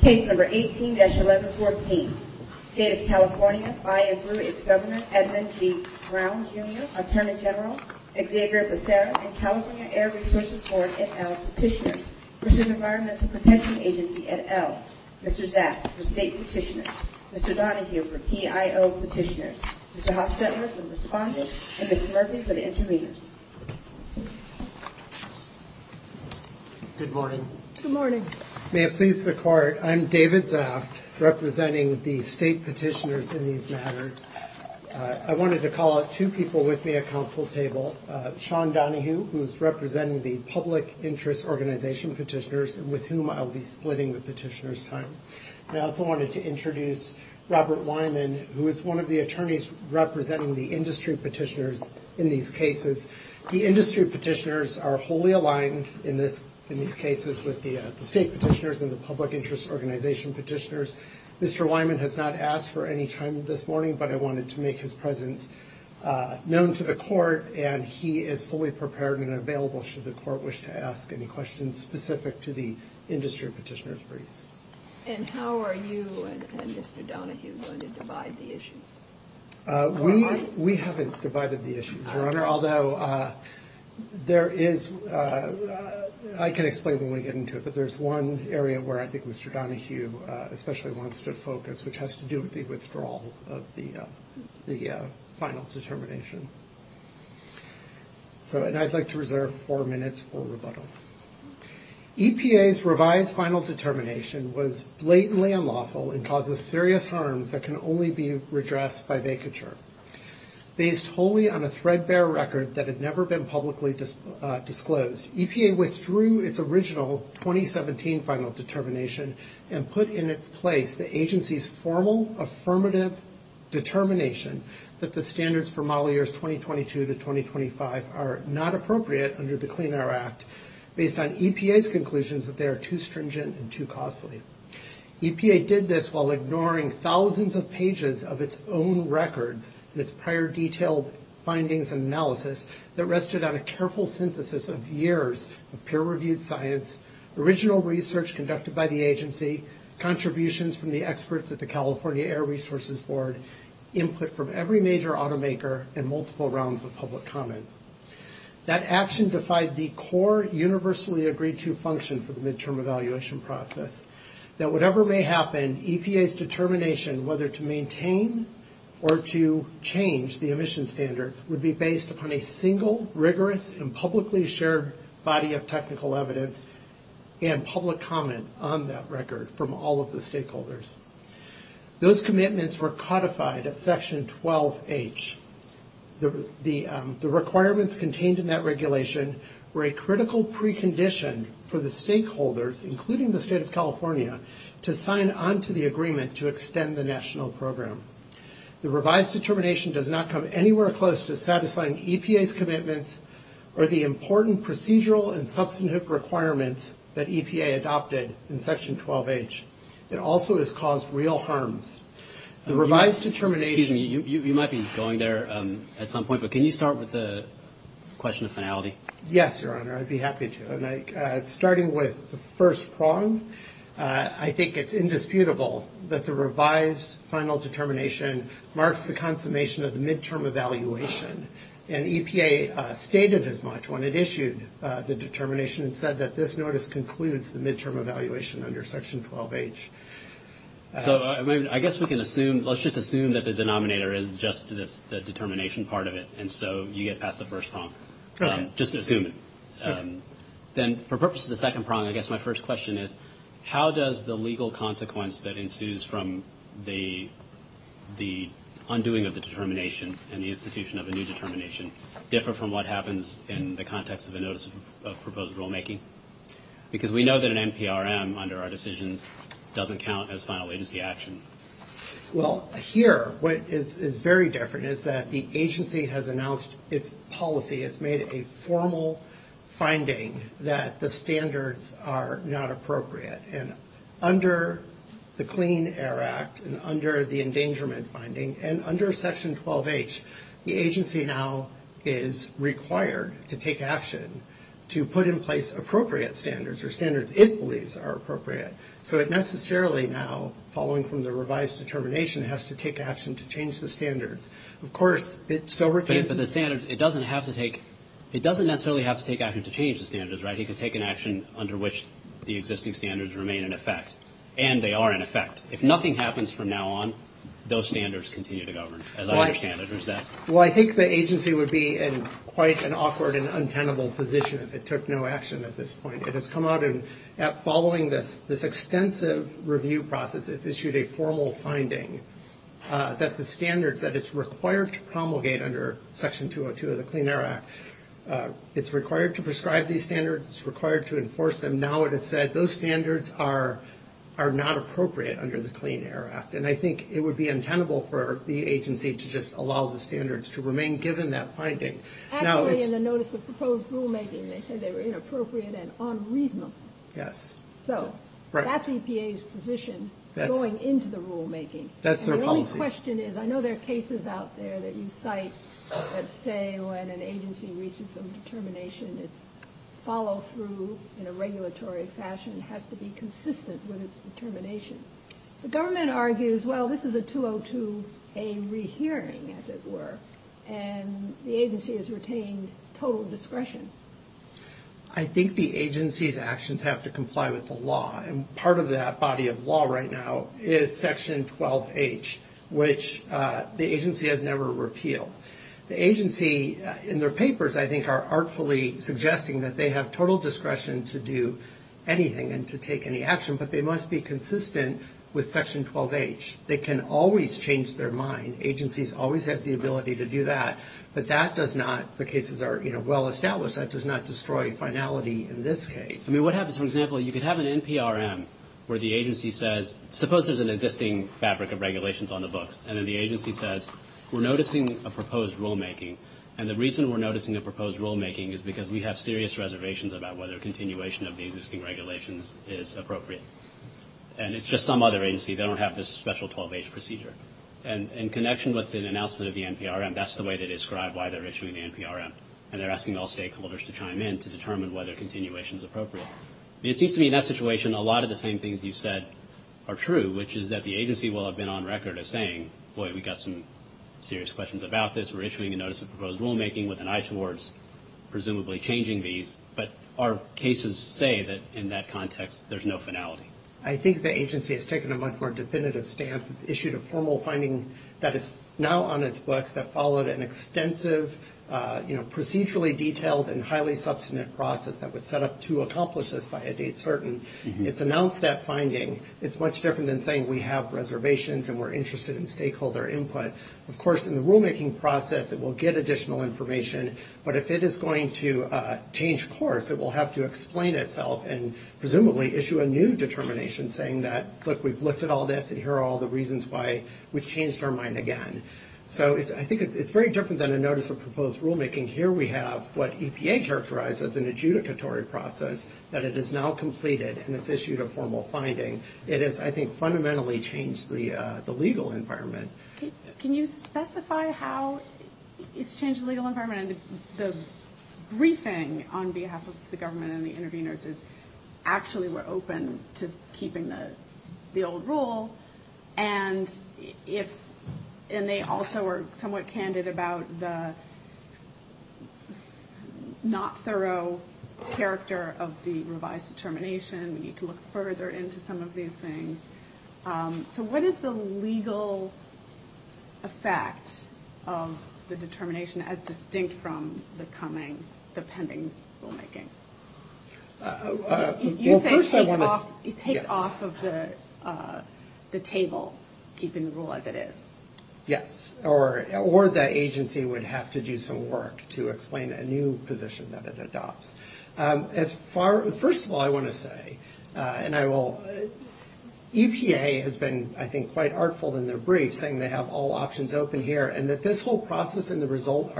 Case number 18-1114. State of California, I include its Governor Edmund C. Brown, Jr., Attorney General Xavier Becerra, and California Air Resources Board, et al. petitioner. Mr. Environmental Protection Agency, et al. Mr. Zaks, for state petitioner. Mr. Donahue, for PIO petitioner. Mr. Hofstetler, for respondent. And Mr. Murphy, for the intervener. Good morning. Good morning. May it please the Court, I'm David Zaks, representing the state petitioners in these matters. I wanted to call out two people with me at counsel's table. Sean Donahue, who is representing the Public Interest Organization petitioners, with whom I will be splitting the petitioner's time. I also wanted to introduce Robert Wyman, who is one of the attorneys representing the industry petitioners in these cases. The industry petitioners are wholly aligned in these cases with the state petitioners and the Public Interest Organization petitioners. Mr. Wyman has not asked for any time this morning, but I wanted to make his presence known to the Court, and he is fully prepared and available should the Court wish to ask any questions specific to the industry petitioners brief. And how are you and Mr. Donahue going to provide the issues? We haven't provided the issues, Your Honor, although there is, I can explain when we get into it, because there's one area where I think Mr. Donahue especially wants to focus, which has to do with the withdrawal of the final determination. And I'd like to reserve four minutes for rebuttal. EPA's revised final determination was blatantly unlawful and causes serious harms that can only be redressed by vacature. Based wholly on a threadbare record that had never been publicly disclosed, EPA withdrew its original 2017 final determination and put in its place the agency's formal affirmative determination that the standards for model years 2022 to 2025 are not appropriate under the Clean Air Act, based on EPA's conclusions that they are too stringent and too costly. EPA did this while ignoring thousands of pages of its own record and its prior detailed findings and analysis that rested on a careful synthesis of years of peer-reviewed science, original research conducted by the agency, contributions from the experts at the California Air Resources Board, input from every major automaker, and multiple rounds of public comment. That action defied the core, universally agreed-to function for the midterm evaluation process, that whatever may happen, EPA's determination whether to maintain or to change the emission standard would be based upon a single, rigorous, and publicly shared body of technical evidence and public comment on that record from all of the stakeholders. Those commitments were codified at Section 12H. The requirements contained in that regulation were a critical precondition for the stakeholders, including the state of California, to sign onto the agreement to extend the national program. The revised determination does not come anywhere close to satisfying EPA's commitments or the important procedural and substantive requirements that EPA adopted in Section 12H. It also has caused real harm. The revised determination... You might be going there at some point, but can you start with the question of finality? Yes, Your Honor, I'd be happy to. Starting with the first prong, I think it's indisputable that the revised final determination marks the consummation of the midterm evaluation, and EPA stated as much when it issued the determination and said that this notice concludes the midterm evaluation under Section 12H. So, I guess we can assume... Let's just assume that the denominator is just the determination part of it, and so you get past the first prong. Just assume it. Then, for purposes of the second prong, I guess my first question is, how does the legal consequence that ensues from the undoing of the determination and the institution of a new determination differ from what happens in the context of the notice of proposed rulemaking? Because we know that an NPRM, under our decisions, doesn't count as final agency action. Well, here, what is very different is that the agency has announced its policy. It's made a formal finding that the standards are not appropriate, and under the Clean Air Act and under the endangerment finding, and under Section 12H, the agency now is required to take action to put in place appropriate standards or standards it believes are appropriate. So, it necessarily now, following from the revised determination, has to take action to change the standards. Of course, it still requires... But the standards, it doesn't have to take... It doesn't necessarily have to take action to change the standards, right? It can take an action under which the existing standards remain in effect, and they are in effect. If nothing happens from now on, those standards continue to govern, as other standards do. Well, I think the agency would be in quite an awkward and untenable position if it took no action at this point. It has come out and, following this extensive review process, it's issued a formal finding that the standards that it's required to promulgate under Section 202 of the Clean Air Act, it's required to prescribe these standards, it's required to enforce them. Now it has said those standards are not appropriate under the Clean Air Act, and I think it would be untenable for the agency to just allow the standards to remain given that finding. Actually, in the notice of proposed rulemaking, they said they were inappropriate and unreasonable. Yes. So, that's EPA's position going into the rulemaking. That's their policy. And the only question is, I know there are cases out there that you cite that say when an agency reaches a determination, its follow-through in a regulatory fashion has to be consistent with its determination. The government argues, well, this is a 202A rehearing, as it were, and the agency has retained total discretion. I think the agency's actions have to comply with the law, and part of that body of law right now is Section 12H, which the agency has never repealed. The agency, in their papers, I think, are artfully suggesting that they have total discretion to do anything and to take any action, but they must be consistent with Section 12H. They can always change their mind. Agencies always have the ability to do that, but that does not, the cases are well established, that does not destroy finality in this case. I mean, what happens, for example, you could have an NPRM where the agency says, suppose there's an existing fabric of regulations on the books, and then the agency says, we're noticing a proposed rulemaking, and the reason we're noticing a proposed rulemaking is because we have serious reservations about whether continuation of the existing regulations is appropriate, and it's just some other agency. They don't have this special 12H procedure, and in connection with the announcement of the NPRM, that's the way they describe why they're issuing the NPRM, and they're asking all stakeholders to chime in to determine whether continuation is appropriate. It seems to me in that situation a lot of the same things you said are true, which is that the agency will have been on record as saying, boy, we've got some serious questions about this. We're issuing a notice of proposed rulemaking with an eye towards presumably changing these, but our cases say that in that context there's no finality. I think the agency has taken a much more definitive stance. It's issued a formal finding that is now on its books that followed an extensive, you know, procedurally detailed and highly substantive process that was set up to accomplish this by a date certain. It's announced that finding. It's much different than saying we have reservations and we're interested in stakeholder input. Of course, in the rulemaking process it will get additional information, but if it is going to change course it will have to explain itself and presumably issue a new determination saying that, look, we've looked at all this and here are all the reasons why we've changed our mind again. So I think it's very different than a notice of proposed rulemaking. Here we have what EPA characterized as an adjudicatory process that it has now completed and it's issued a formal finding. It has, I think, fundamentally changed the legal environment. Can you specify how it's changed the legal environment? The briefing on behalf of the government and the interveners actually were open to keeping the old rule and they also were somewhat candid about the not thorough character of the revised determination. We need to look further into some of these things. So what is the legal effect of the determination as distinct from the pending rulemaking? You're saying it takes off of the table, keeping the rule as it is. Yes, or the agency would have to do some work to explain a new position that it adopts. First of all, I want to say, and I will, EPA has been, I think, quite artful in their brief saying they have all options open here and that this whole process and the result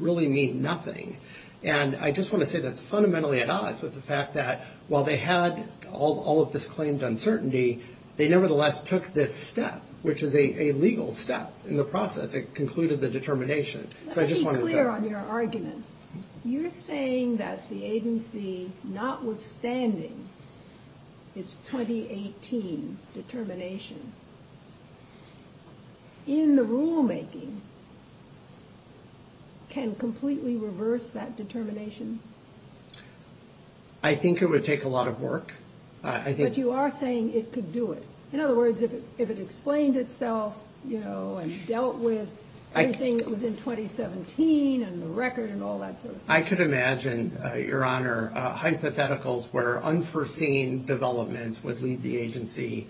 really mean nothing. And I just want to say that's fundamentally at odds with the fact that while they had all of this claimed uncertainty, they nevertheless took this step, which is a legal step in the process that concluded the determination. Let me be clear on your argument. You're saying that the agency, notwithstanding its 2018 determination, in the rulemaking, can completely reverse that determination? I think it would take a lot of work. But you are saying it could do it. In other words, if it explained itself and dealt with everything that was in 2017 and the record and all that sort of thing. I could imagine, Your Honor, hypotheticals where unforeseen developments would lead the agency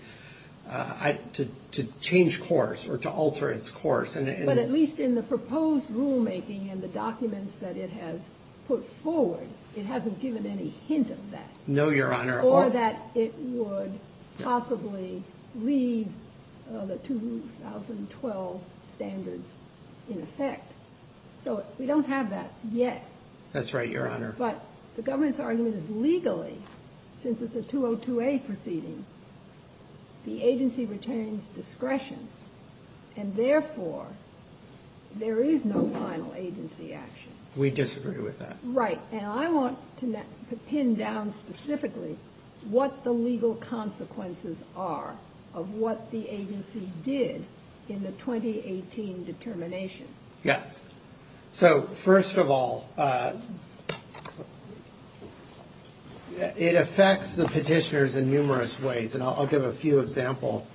to change course or to alter its course. But at least in the proposed rulemaking and the documents that it has put forward, it hasn't given any hint of that. No, Your Honor. Or that it would possibly lead the 2012 standards in effect. So we don't have that yet. That's right, Your Honor. But the government's argument is legally, since it's a 202A proceeding, the agency retains discretion. And therefore, there is no final agency action. We disagree with that. Right. And I want to pin down specifically what the legal consequences are of what the agency did in the 2018 determination. Yes. So, first of all, it affects the petitioners in numerous ways. And I'll give a few examples.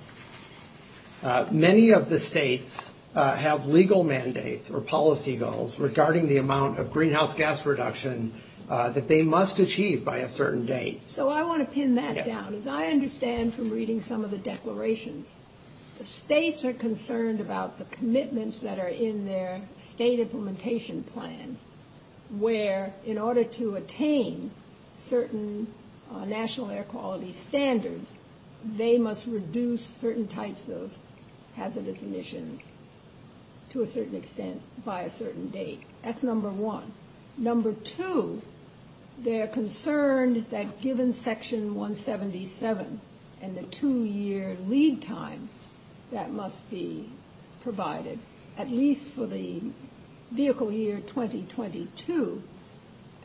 Many of the states have legal mandates or policy goals regarding the amount of greenhouse gas reduction that they must achieve by a certain date. So I want to pin that down. As I understand from reading some of the declarations, states are concerned about the commitments that are in their state implementation plan where in order to attain certain national air quality standards, they must reduce certain types of hazardous emissions to a certain extent by a certain date. That's number one. Number two, they're concerned that given Section 177 and the two-year lead time that must be provided, at least for the vehicle year 2022,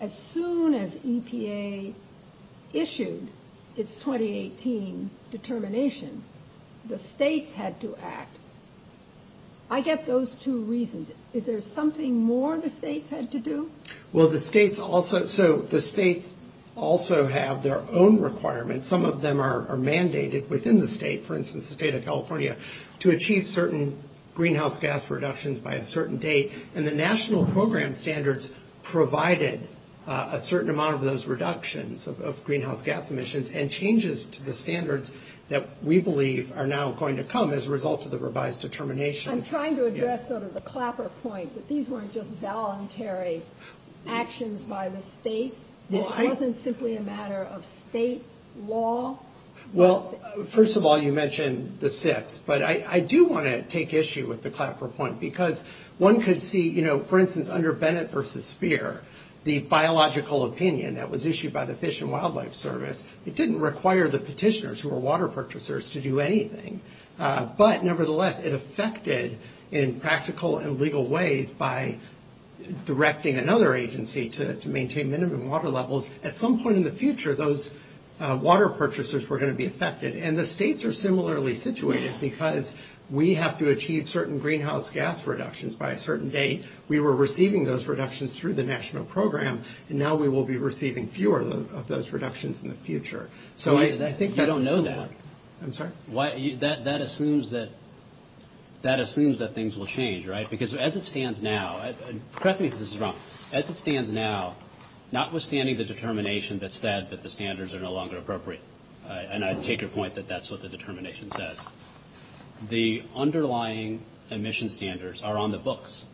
as soon as EPA issued its 2018 determination, the states had to act. I get those two reasons. Is there something more the states had to do? Well, the states also have their own requirements. Some of them are mandated within the state, for instance, the state of California, to achieve certain greenhouse gas reductions by a certain date. And the national program standards provided a certain amount of those reductions of greenhouse gas emissions and changes to the standards that we believe are now going to come as a result of the revised determination. I'm trying to address sort of the clapper point that these weren't just voluntary actions by the states. It wasn't simply a matter of state law. Well, first of all, you mentioned the six, but I do want to take issue with the clapper point because one could see, you know, for instance, under Bennett v. Speer, the biological opinion that was issued by the Fish and Wildlife Service, it didn't require the petitioners who were water purchasers to do anything. But nevertheless, it affected in practical and legal ways by directing another agency to maintain minimum water levels. At some point in the future, those water purchasers were going to be affected. And the states are similarly situated because we have to achieve certain greenhouse gas reductions. By a certain date, we were receiving those reductions through the national program, and now we will be receiving fewer of those reductions in the future. So I think that... You don't know that. I'm sorry? That assumes that things will change, right? Because as it stands now, and correct me if this is wrong, as it stands now, notwithstanding the determination that said that the standards are no longer appropriate, and I take your point that that's what the determination says, the underlying emission standards are on the books,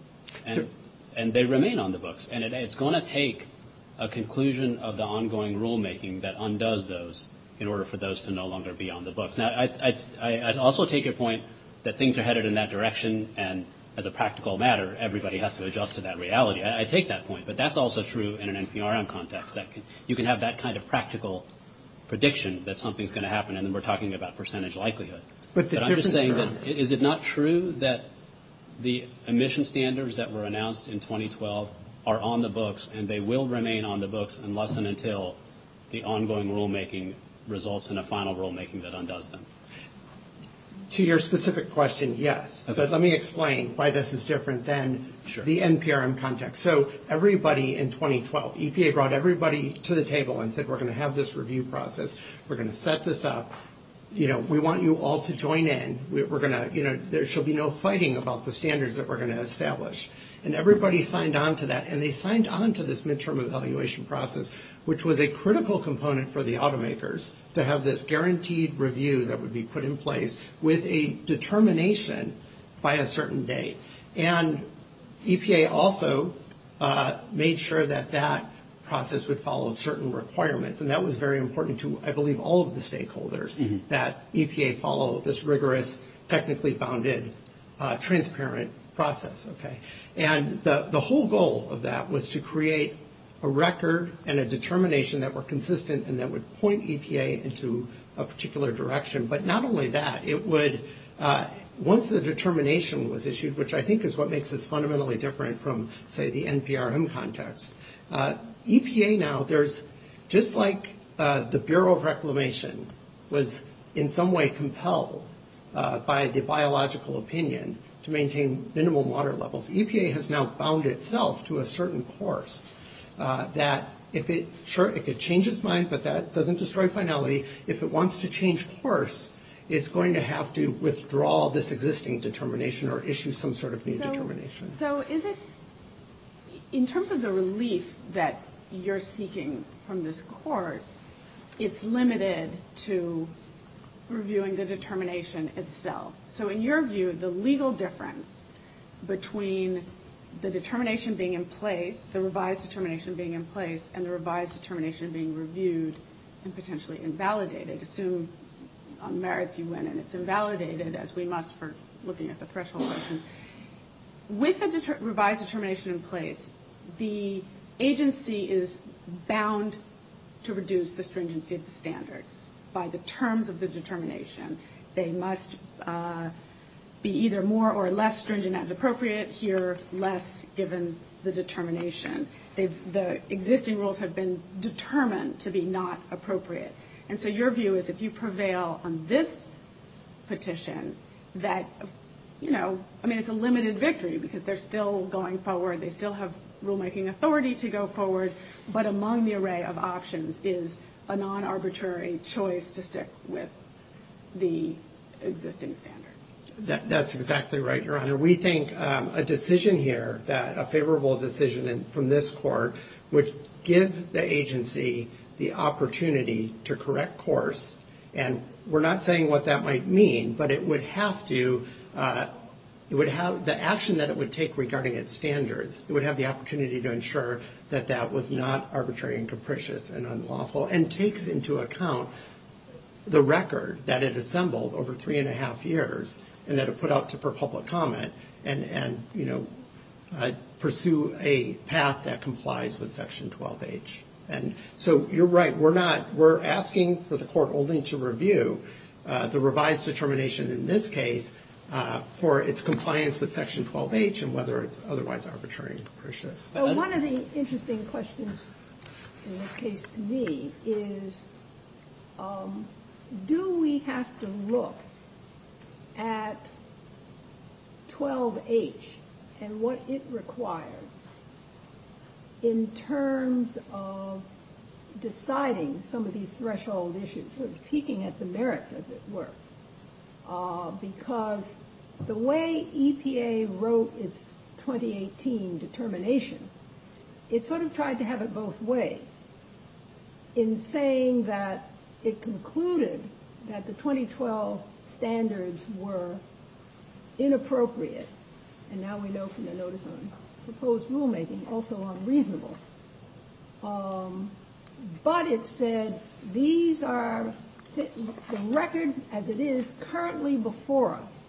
and they remain on the books. And it's going to take a conclusion of the ongoing rulemaking that undoes those in order for those to no longer be on the books. Now, I also take your point that things are headed in that direction, and as a practical matter, everybody has to adjust to that reality. I take that point, but that's also true in an NPRM context. You can have that kind of practical prediction that something's going to happen, and we're talking about percentage likelihood. But I'm just saying, is it not true that the emission standards that were announced in 2012 are on the books, and they will remain on the books unless and until the ongoing rulemaking results in a final rulemaking that undoes them? To your specific question, yes. But let me explain why this is different than the NPRM context. So everybody in 2012, EPA brought everybody to the table and said, we're going to have this review process. We're going to set this up. We want you all to join in. There shall be no fighting about the standards that we're going to establish. And everybody signed on to that, and they signed on to this midterm evaluation process, which was a critical component for the automakers to have this guaranteed review that would be put in place with a determination by a certain date. And EPA also made sure that that process would follow certain requirements, and that was very important to, I believe, all of the stakeholders, that EPA follow this rigorous, technically-founded, transparent process. And the whole goal of that was to create a record and a determination that were consistent and that would point EPA into a particular direction. But not only that, once the determination was issued, which I think is what makes this fundamentally different from, say, the NPRM context, EPA now, just like the Bureau of Reclamation was in some way compelled by the biological opinion to maintain minimal water levels, EPA has now bound itself to a certain course that, sure, if it changes mind, but that doesn't destroy finality. If it wants to change course, it's going to have to withdraw this existing determination or issue some sort of new determination. So is it, in terms of the relief that you're seeking from this court, it's limited to reviewing the determination itself. So in your view, the legal difference between the determination being in place, the revised determination being in place, and the revised determination being reviewed and potentially invalidated, assume merits you win and it's invalidated, as we must for looking at the press release. With the revised determination in place, the agency is bound to reduce the stringency of the standards by the terms of the determination. They must be either more or less stringent as appropriate. Here, less given the determination. The existing rules have been determined to be not appropriate. And so your view is if you prevail on this petition that, you know, I mean it's a limited victory because they're still going forward, they still have rulemaking authority to go forward, but among the array of options is a non-arbitrary choice to stick with the existing standards. That's exactly right, Your Honor. Your Honor, we think a decision here, a favorable decision from this court, would give the agency the opportunity to correct course. And we're not saying what that might mean, but it would have to, it would have the action that it would take regarding its standards, it would have the opportunity to ensure that that was not arbitrary and capricious and unlawful, and take into account the record that it assembled over three and a half years and that it put out for public comment and, you know, pursue a path that complies with Section 12H. And so you're right. We're not, we're asking for the court only to review the revised determination in this case for its compliance with Section 12H and whether it's otherwise arbitrary and capricious. One of the interesting questions in this case to me is do we have to look at 12H and what it requires in terms of deciding some of these threshold issues, because the way EPA wrote its 2018 determination, it sort of tried to have it both ways. In saying that it concluded that the 2012 standards were inappropriate, and now we know from the notice of proposed rulemaking, also unreasonable. But it said these are, the record as it is currently before us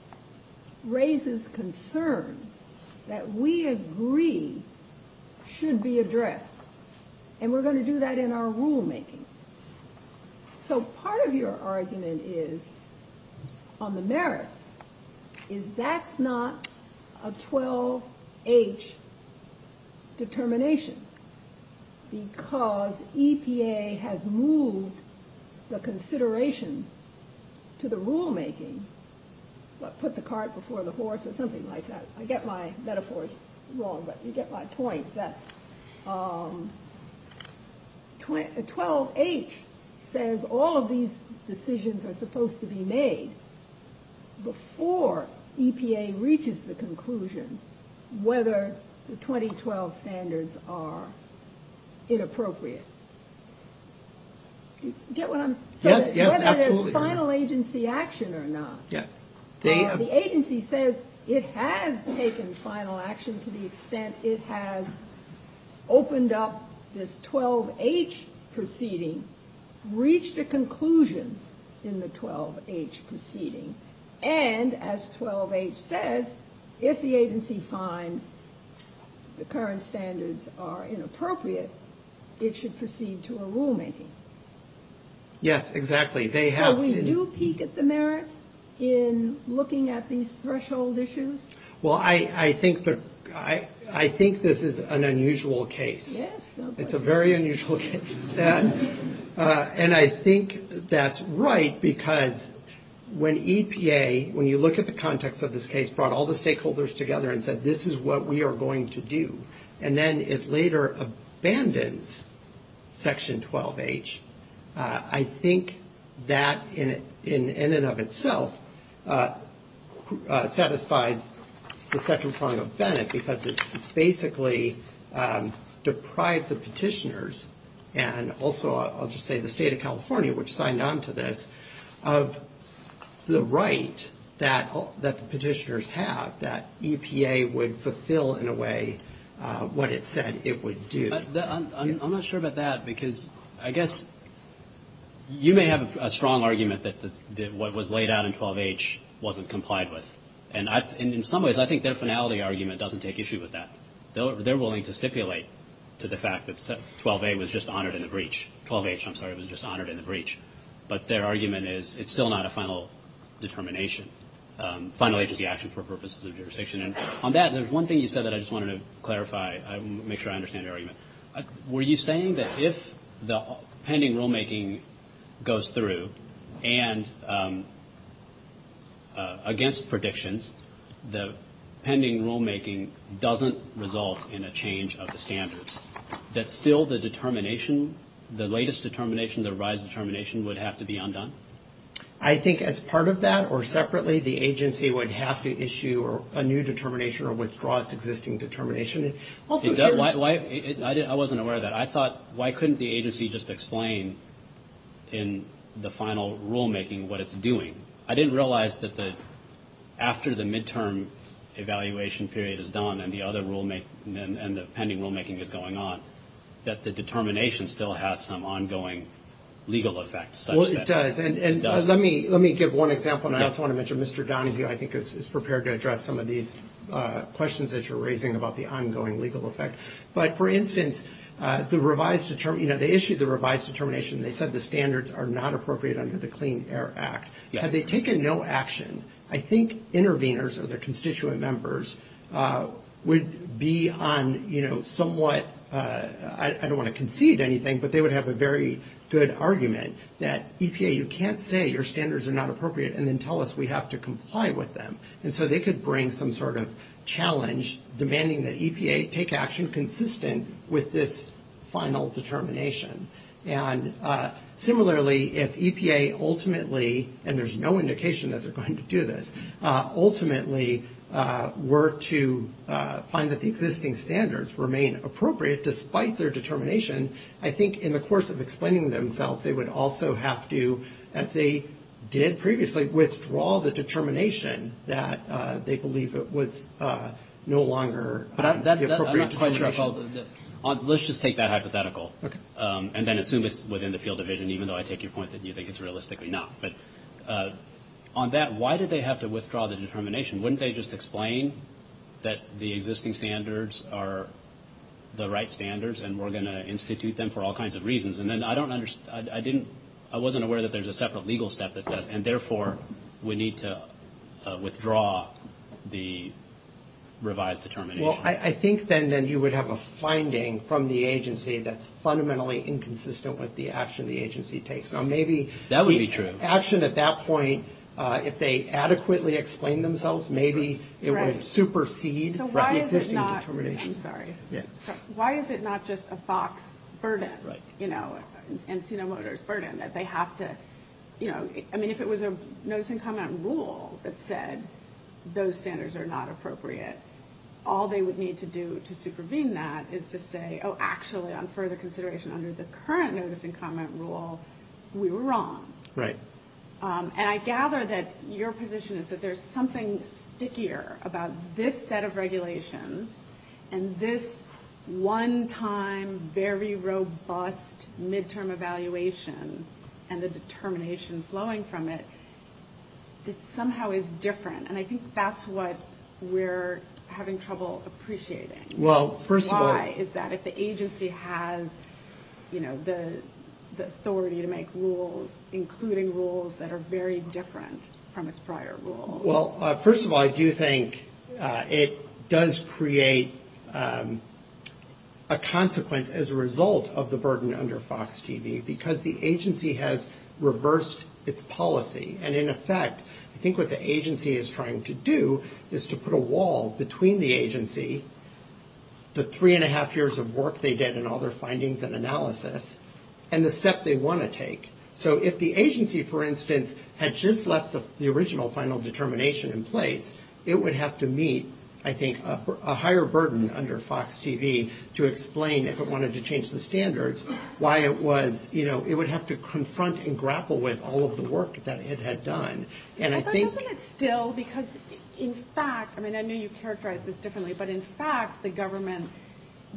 raises concerns that we agree should be addressed. And we're going to do that in our rulemaking. So part of your argument is, on the merits, is that's not a 12H determination. Because EPA has moved the consideration to the rulemaking, but put the cart before the horse or something like that. I get my metaphors wrong, but you get my point. But 12H says all of these decisions are supposed to be made before EPA reaches the conclusion whether the 2012 standards are inappropriate. Do you get what I'm saying? Yes, yes, absolutely. Whether there's final agency action or not. Yes. The agency says it has taken final action to the extent it has opened up this 12H proceeding, reached a conclusion in the 12H proceeding. And as 12H says, if the agency finds the current standards are inappropriate, it should proceed to a rulemaking. Yes, exactly. So we do peek at the merits in looking at these threshold issues? Well, I think this is an unusual case. It's a very unusual case. And I think that's right because when EPA, when you look at the context of this case, brought all the stakeholders together and said, this is what we are going to do, and then it later abandoned Section 12H, I think that in and of itself satisfied the second prong of Bennett because it basically deprived the petitioners, and also I'll just say the state of California, which signed on to this, of the right that the petitioners have, that EPA would fulfill in a way what it said it would do. I'm not sure about that because I guess you may have a strong argument that what was laid out in 12H wasn't complied with. And in some ways, I think their finality argument doesn't take issue with that. They're willing to stipulate to the fact that 12A was just honored in the breach. 12H, I'm sorry, was just honored in the breach. But their argument is it's still not a final determination, final agency action for purposes of jurisdiction. And on that, there's one thing you said that I just wanted to clarify and make sure I understand your argument. Were you saying that if the pending rulemaking goes through and against predictions, the pending rulemaking doesn't result in a change of the standards, that still the determination, the latest determination, the revised determination would have to be undone? I think as part of that or separately, the agency would have to issue a new determination or withdraw its existing determination. I wasn't aware of that. I thought, why couldn't the agency just explain in the final rulemaking what it's doing? I didn't realize that after the midterm evaluation period is done and the pending rulemaking is going on, that the determination still has some ongoing legal effect. Well, it does. And let me give one example, and I also want to mention Mr. Downing, who I think is prepared to address some of these questions that you're raising about the ongoing legal effect. But, for instance, the revised determination, you know, they issued the revised determination. They said the standards are not appropriate under the Clean Air Act. Had they taken no action, I think interveners or their constituent members would be on, you know, somewhat, I don't want to concede anything, but they would have a very good argument that EPA, you can't say your standards are not appropriate and then tell us we have to comply with them. And so they could bring some sort of challenge demanding that EPA take action consistent with this final determination. And similarly, if EPA ultimately, and there's no indication that they're going to do this, ultimately were to find that the existing standards remain appropriate despite their determination, I think in the course of explaining themselves they would also have to, as they did previously, withdraw the determination that they believe it was no longer appropriate. Let's just take that hypothetical and then assume it's within the field of vision, even though I take your point that you think it's realistically not. But on that, why did they have to withdraw the determination? Wouldn't they just explain that the existing standards are the right standards and we're going to institute them for all kinds of reasons? And then I don't understand, I didn't, I wasn't aware that there's a separate legal step that's set up and therefore we need to withdraw the revised determination. Well, I think then you would have a finding from the agency that's fundamentally inconsistent with the action the agency takes. Now maybe the action at that point, if they adequately explained themselves, maybe it would have superseded the existing determination. I'm sorry. Yeah. Why is it not just a FOX burden, you know, and Sino Motors burden that they have to, you know, I mean if it was a notice and comment rule that said those standards are not appropriate, all they would need to do to supervene that is to say, oh, actually, on further consideration, under the current notice and comment rule, we were wrong. Right. And I gather that your position is that there's something stickier about this set of regulations and this one-time, very robust midterm evaluation and the determination flowing from it. It somehow is different, and I think that's what we're having trouble appreciating. Well, first of all. Why? Is that if the agency has, you know, the authority to make rules, including rules that are very different from its prior rules. Well, first of all, I do think it does create a consequence as a result of the burden under FOX TV because the agency has reversed its policy. And in effect, I think what the agency is trying to do is to put a wall between the agency, the three-and-a-half years of work they did in all their findings and analysis, and the steps they want to take. So if the agency, for instance, had just left the original final determination in place, it would have to meet, I think, a higher burden under FOX TV to explain, if it wanted to change the standards, why it was, you know, it would have to confront and grapple with all of the work that it had done. But I'm hoping it's still because, in fact, I mean, I know you've characterized this differently, but in fact the government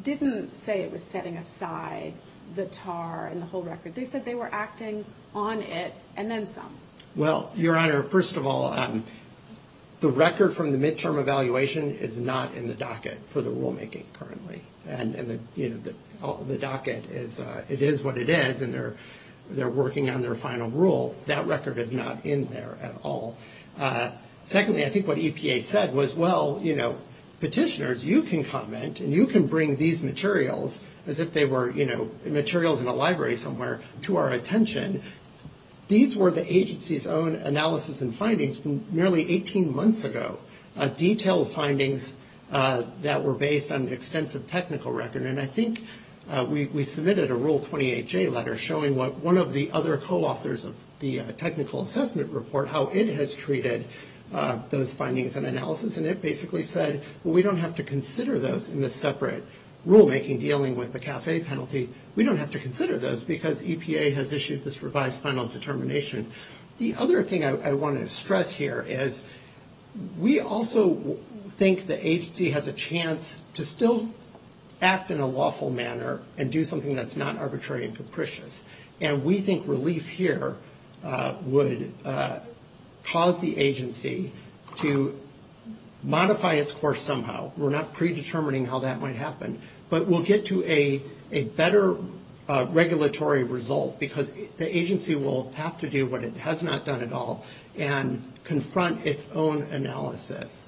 didn't say it was setting aside the TAR and the whole record. They said they were acting on it and then some. Well, Your Honor, first of all, the record from the midterm evaluation is not in the docket for the rulemaking currently. And, you know, the docket, it is what it is, and they're working on their final rule. That record is not in there at all. Secondly, I think what EPA said was, well, you know, petitioners, you can comment and you can bring these materials as if they were, you know, materials in a library somewhere to our attention. These were the agency's own analysis and findings nearly 18 months ago, detailed findings that were based on extensive technical record. And I think we submitted a Rule 28J letter showing what one of the other coauthors of the technical assessment report, how it has treated those findings and analysis. And it basically said, well, we don't have to consider those in the separate rulemaking dealing with the CAFE penalty. We don't have to consider those because EPA has issued this revised final determination. The other thing I want to stress here is we also think the agency has a chance to still act in a lawful manner and do something that's not arbitrary and capricious. And we think relief here would cause the agency to modify its course somehow. We're not predetermining how that might happen, but we'll get to a better regulatory result because the agency will have to do what it has not done at all and confront its own analysis.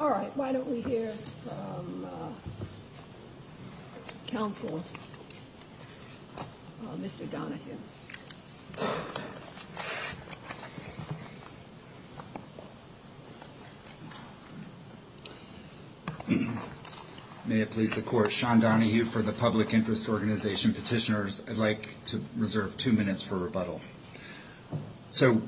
All right, why don't we hear from counsel, Mr. Donahue. Thank you. May it please the Court, Sean Donahue for the Public Interest Organization. Petitioners, I'd like to reserve two minutes for rebuttal. So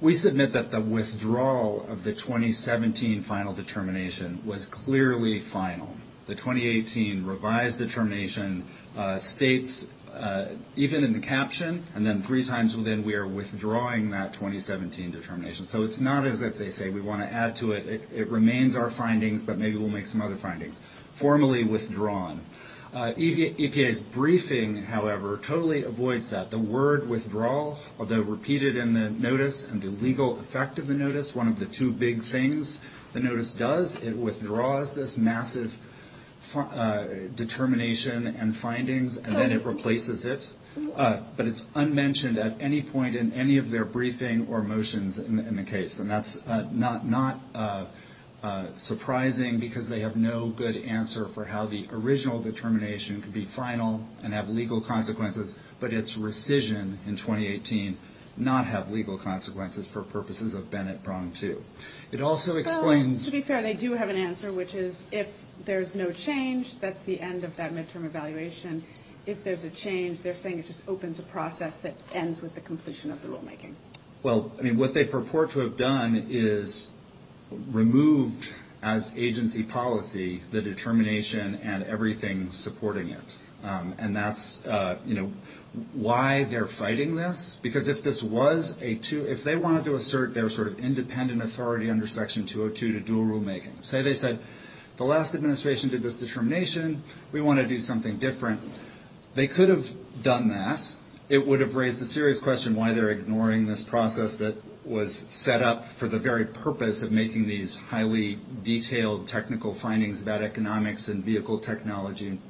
we submit that the withdrawal of the 2017 final determination was clearly final. The 2018 revised determination states, even in the caption, and then three times within, we are withdrawing that 2017 determination. So it's not as if they say we want to add to it. It remains our findings, but maybe we'll make some other findings. Formally withdrawn. EPA's briefing, however, totally avoids that. The word withdrawal, although repeated in the notice and the legal effect of the notice, one of the two big things the notice does, it withdraws this massive determination and findings, and then it replaces it. But it's unmentioned at any point in any of their briefing or motions in the case. And that's not surprising because they have no good answer for how the original determination could be final and have legal consequences, but its rescission in 2018 not have legal consequences for purposes of Bennett Prong 2. It also explains... To be fair, they do have an answer, which is if there's no change, that's the end of that midterm evaluation. If there's a change, they're saying it just opens a process that ends with the completion of the rulemaking. Well, I mean, what they purport to have done is removed as agency policy the determination and everything supporting it, and that's, you know, why they're fighting this. Because if this was a two... If they wanted to assert their sort of independent authority under Section 202 to do rulemaking, say they said the last administration did this determination, we want to do something different. They could have done that. It would have raised a serious question why they're ignoring this process that was set up for the very purpose of making these and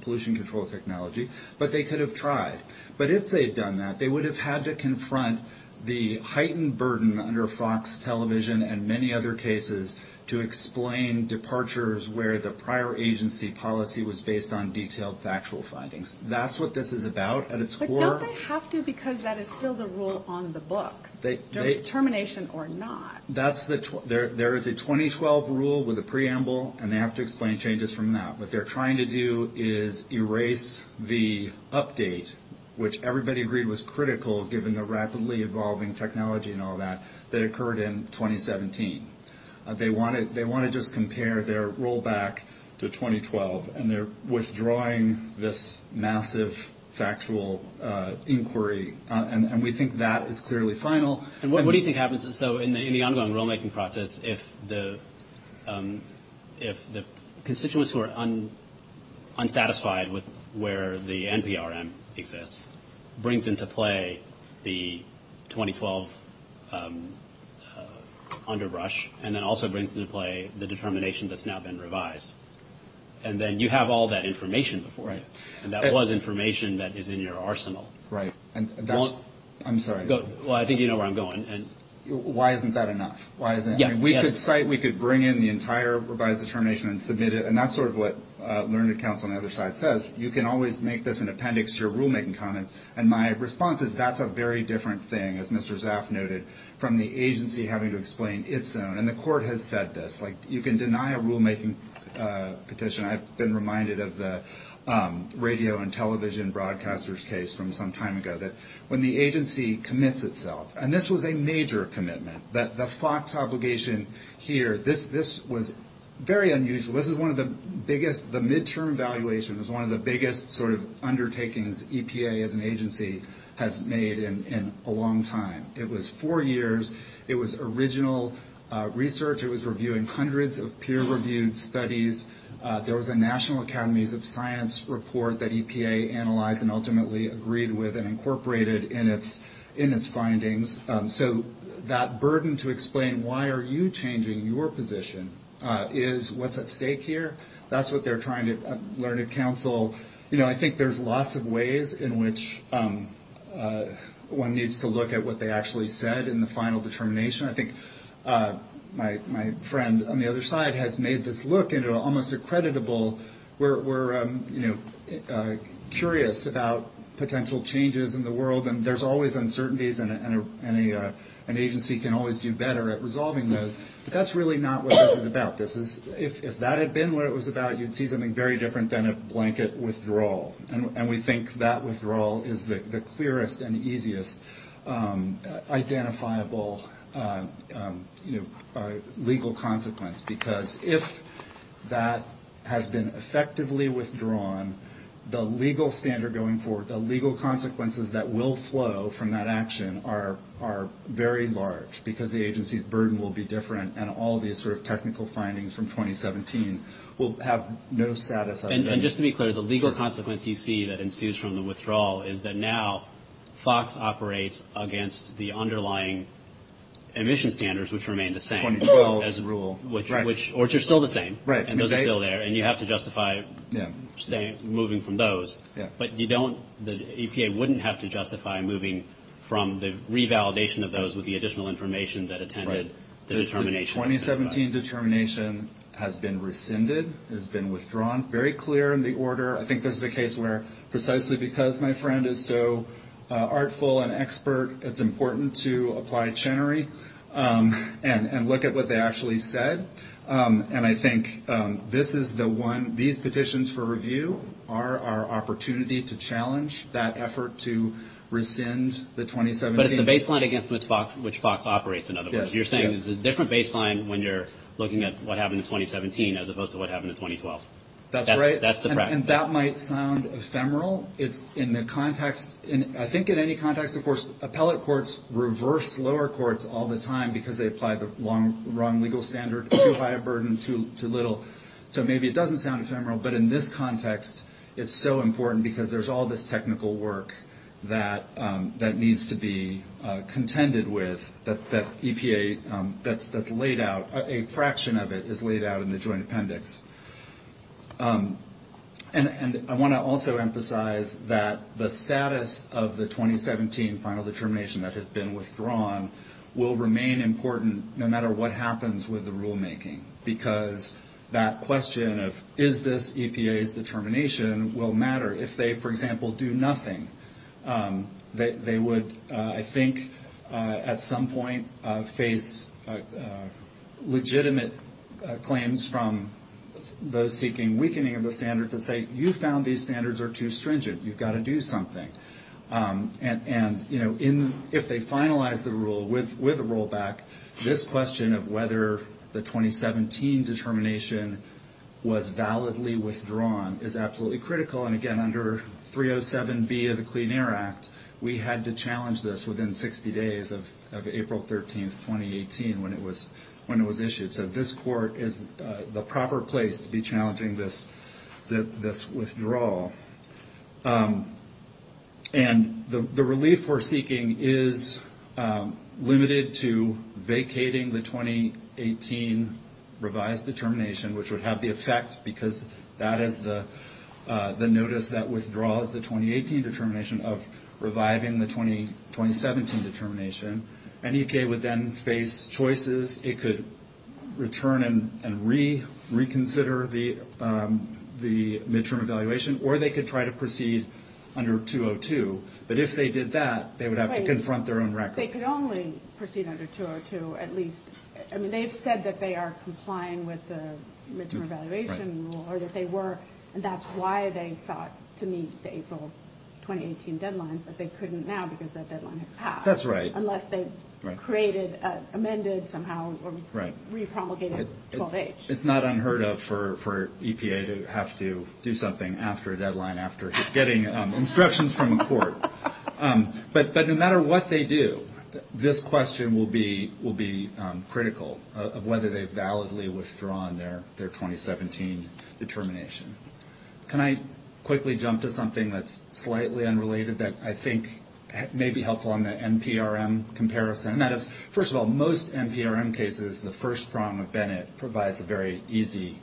pollution control technology, but they could have tried. But if they'd done that, they would have had to confront the heightened burden under Fox Television and many other cases to explain departures where the prior agency policy was based on detailed factual findings. That's what this is about at its core. But don't they have to because that is still the rule on the book, determination or not. There is a 2012 rule with a preamble, and they have to explain changes from that. What they're trying to do is erase the update, which everybody agreed was critical, given the rapidly evolving technology and all that, that occurred in 2017. They want to just compare their rollback to 2012, and they're withdrawing this massive factual inquiry. And we think that is clearly final. And what do you think happens in the ongoing rulemaking process if the constituents who are unsatisfied with where the NPRM exists brings into play the 2012 underbrush and then also brings into play the determination that's now been revised? And then you have all that information before you. And that was information that is in your arsenal. Right. I'm sorry. Well, I think you know where I'm going. Why isn't that enough? We could cite, we could bring in the entire revised determination and submit it, and that's sort of what Learned Accounts on the other side says. You can always make this an appendix to your rulemaking comments. And my response is that's a very different thing, as Mr. Zaf noted, from the agency having to explain its own. And the court has said this. Like, you can deny a rulemaking petition. I've been reminded of the radio and television broadcaster's case from some time ago when the agency commits itself. And this was a major commitment. The FOX obligation here, this was very unusual. This was one of the biggest, the midterm evaluation was one of the biggest sort of undertakings EPA as an agency has made in a long time. It was four years. It was original research. It was reviewing hundreds of peer-reviewed studies. There was a National Academies of Science report that EPA analyzed and ultimately agreed with and incorporated in its findings. So that burden to explain why are you changing your position is what's at stake here. That's what they're trying to learn at counsel. You know, I think there's lots of ways in which one needs to look at what they actually said in the final determination. I think my friend on the other side has made this look into almost a creditable, we're curious about potential changes in the world and there's always uncertainties and an agency can always do better at resolving those. But that's really not what this is about. If that had been what it was about, you'd see something very different than a blanket withdrawal. And we think that withdrawal is the clearest and easiest identifiable, you know, legal consequence. Because if that has been effectively withdrawn, the legal standard going forward, the legal consequences that will flow from that action are very large because the agency's burden will be different and all these sort of technical findings from 2017 will have no status. And just to be clear, the legal consequence you see that ensues from the withdrawal is that now FOX operates against the underlying emission standards, which remain the same as a rule, which are still the same. And those are still there and you have to justify moving from those. But you don't, the EPA wouldn't have to justify moving from the revalidation of those with the additional information that attended the determination. The 2017 determination has been rescinded, has been withdrawn, very clear in the order. I think this is a case where precisely because my friend is so artful and expert, it's important to apply Chenery and look at what they actually said. And I think this is the one, these petitions for review are our opportunity to challenge that effort to rescind the 2017. But it's the baseline against which FOX operates, in other words. You're saying it's a different baseline when you're looking at what happened in 2017 as opposed to what happened in 2012. That's right. That's the practice. And that might sound ephemeral. In the context, I think in any context, of course, appellate courts reverse lower courts all the time because they apply the wrong legal standard, too high a burden, too little. So maybe it doesn't sound ephemeral. But in this context, it's so important because there's all this technical work that needs to be contended with that EPA, that's laid out, a fraction of it is laid out in the Joint Appendix. And I want to also emphasize that the status of the 2017 final determination that has been withdrawn will remain important no matter what happens with the rulemaking because that question of is this EPA's determination will matter if they, for example, do nothing. They would, I think, at some point face legitimate claims from those seeking weakening of the standards that say, you found these standards are too stringent. You've got to do something. And, you know, if they finalize the rule with a rollback, this question of whether the 2017 determination was validly withdrawn is absolutely critical. And, again, under 307B of the Clean Air Act, we had to challenge this within 60 days of April 13, 2018, when it was issued. So this court is the proper place to be challenging this withdrawal. And the relief we're seeking is limited to vacating the 2018 revised determination, which would have the effect because that is the notice that withdraws the 2018 determination of reviving the 2017 determination. And EPA would then face choices. It could return and reconsider the midterm evaluation, or they could try to proceed under 202. But if they did that, they would have to confront their own record. They could only proceed under 202, at least. I mean, they've said that they are complying with the midterm evaluation rule, or that they were, and that's why they sought to meet the April 2018 deadline, but they couldn't now because that deadline has passed. That's right. Unless they created, amended somehow, or re-complicated 12H. It's not unheard of for EPA to have to do something after a deadline, after getting instructions from a court. But no matter what they do, this question will be critical of whether they've validly withdrawn their 2017 determination. Can I quickly jump to something that's slightly unrelated that I think may be helpful on the NPRM comparison? First of all, most NPRM cases, the first prong of Bennett provides a very easy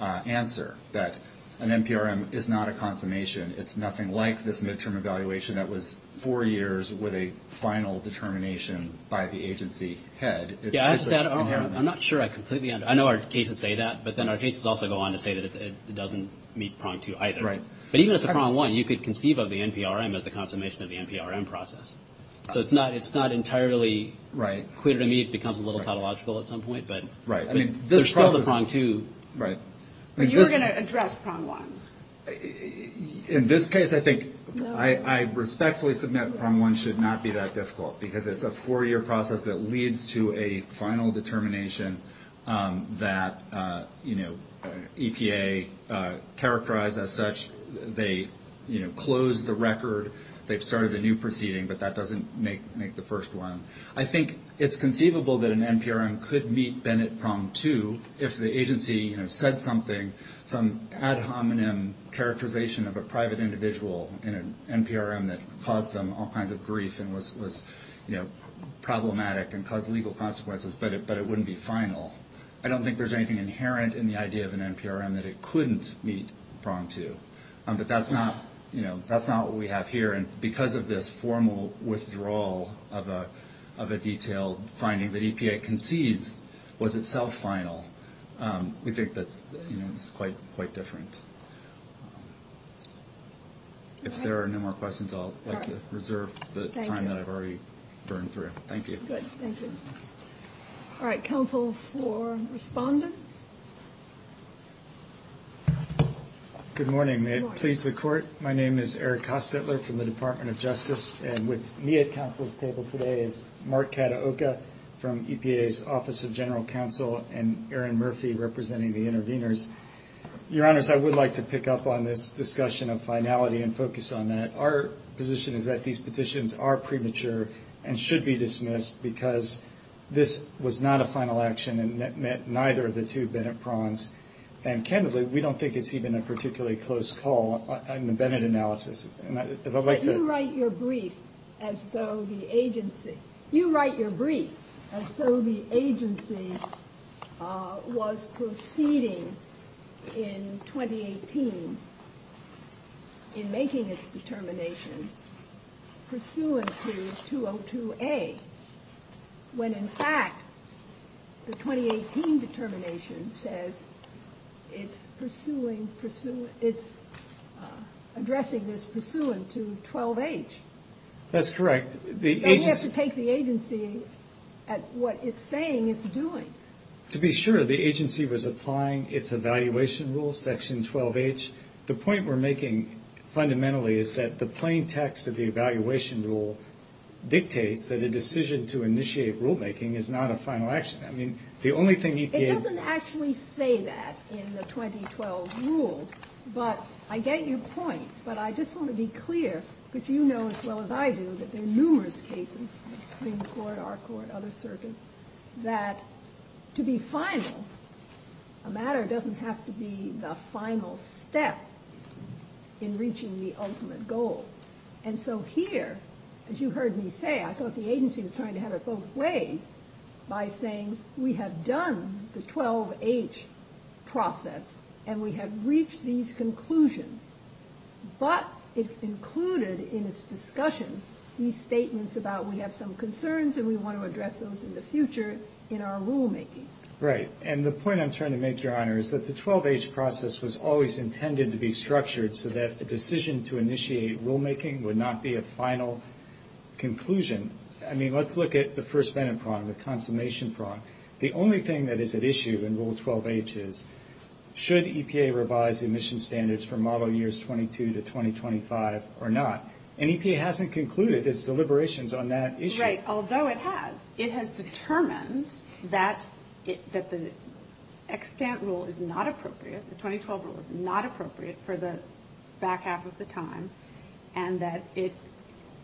answer, that an NPRM is not a consummation. It's nothing like this midterm evaluation that was four years with a final determination by the agency head. I'm not sure I completely understand. I know our cases say that, but then our cases also go on to say that it doesn't meet prong two either. But even if it's a prong one, you could conceive of the NPRM as the consummation of the NPRM process. So it's not entirely clear to me it becomes a little tautological at some point, but there's still the prong two. But you're going to address prong one. In this case, I think I respectfully submit prong one should not be that difficult because it's a four-year process that leads to a final determination that, you know, EPA characterized as such. They, you know, closed the record. They've started a new proceeding, but that doesn't make the first one. I think it's conceivable that an NPRM could meet Bennett prong two if the agency, you know, said something, some ad hominem characterization of a private individual in an NPRM that caused them all kinds of grief and was, you know, problematic and caused legal consequences, but it wouldn't be final. I don't think there's anything inherent in the idea of an NPRM that it couldn't meet prong two. But that's not, you know, that's not what we have here. And because of this formal withdrawal of a detailed finding that EPA concedes was itself final, we think that, you know, it's quite different. If there are no more questions, I'll like to reserve the time that I've already burned through. Thank you. Good. Thank you. All right. Counsel for respondent. Good morning. May it please the court. My name is Eric Hostetler from the Department of Justice, and with me at counsel's table today is Mark Kataoka from EPA's Office of General Counsel and Erin Murphy representing the interveners. Your Honors, I would like to pick up on this discussion of finality and focus on that. Our position is that these petitions are premature and should be dismissed because this was not a final action and it met neither of the two Bennett prongs. And candidly, we don't think it's even a particularly close call on the Bennett analysis. You write your brief as though the agency was proceeding in 2018 in making its determination pursuant to 202A when, in fact, the 2018 determination says it's pursuing, it's addressing its pursuant to 12H. That's correct. And you have to take the agency at what it's saying it's doing. To be sure, the agency was applying its evaluation rule, section 12H. Your Honors, the point we're making fundamentally is that the plain text of the evaluation rule dictates that a decision to initiate rulemaking is not a final action. I mean, the only thing you can... It doesn't actually say that in the 2012 rule, but I get your point. But I just want to be clear, because you know as well as I do that there are numerous cases, Supreme Court, our court, other circuits, that to be final, a matter doesn't have to be the final step in reaching the ultimate goal. And so here, as you heard me say, I thought the agency was trying to have it both ways by saying we have done the 12H process and we have reached these conclusions. But it's included in its discussion these statements about we have some concerns and we want to address those in the future in our rulemaking. Right. And the point I'm trying to make, Your Honors, is that the 12H process was always intended to be structured so that a decision to initiate rulemaking would not be a final conclusion. I mean, let's look at the first benefit problem, the consummation problem. The only thing that is at issue in Rule 12H is should EPA revise emission standards for model years 22 to 2025 or not? And EPA hasn't concluded its deliberations on that issue. Right, although it has. It has determined that the extant rule is not appropriate, the 2012 rule is not appropriate for the back half of the time, and that it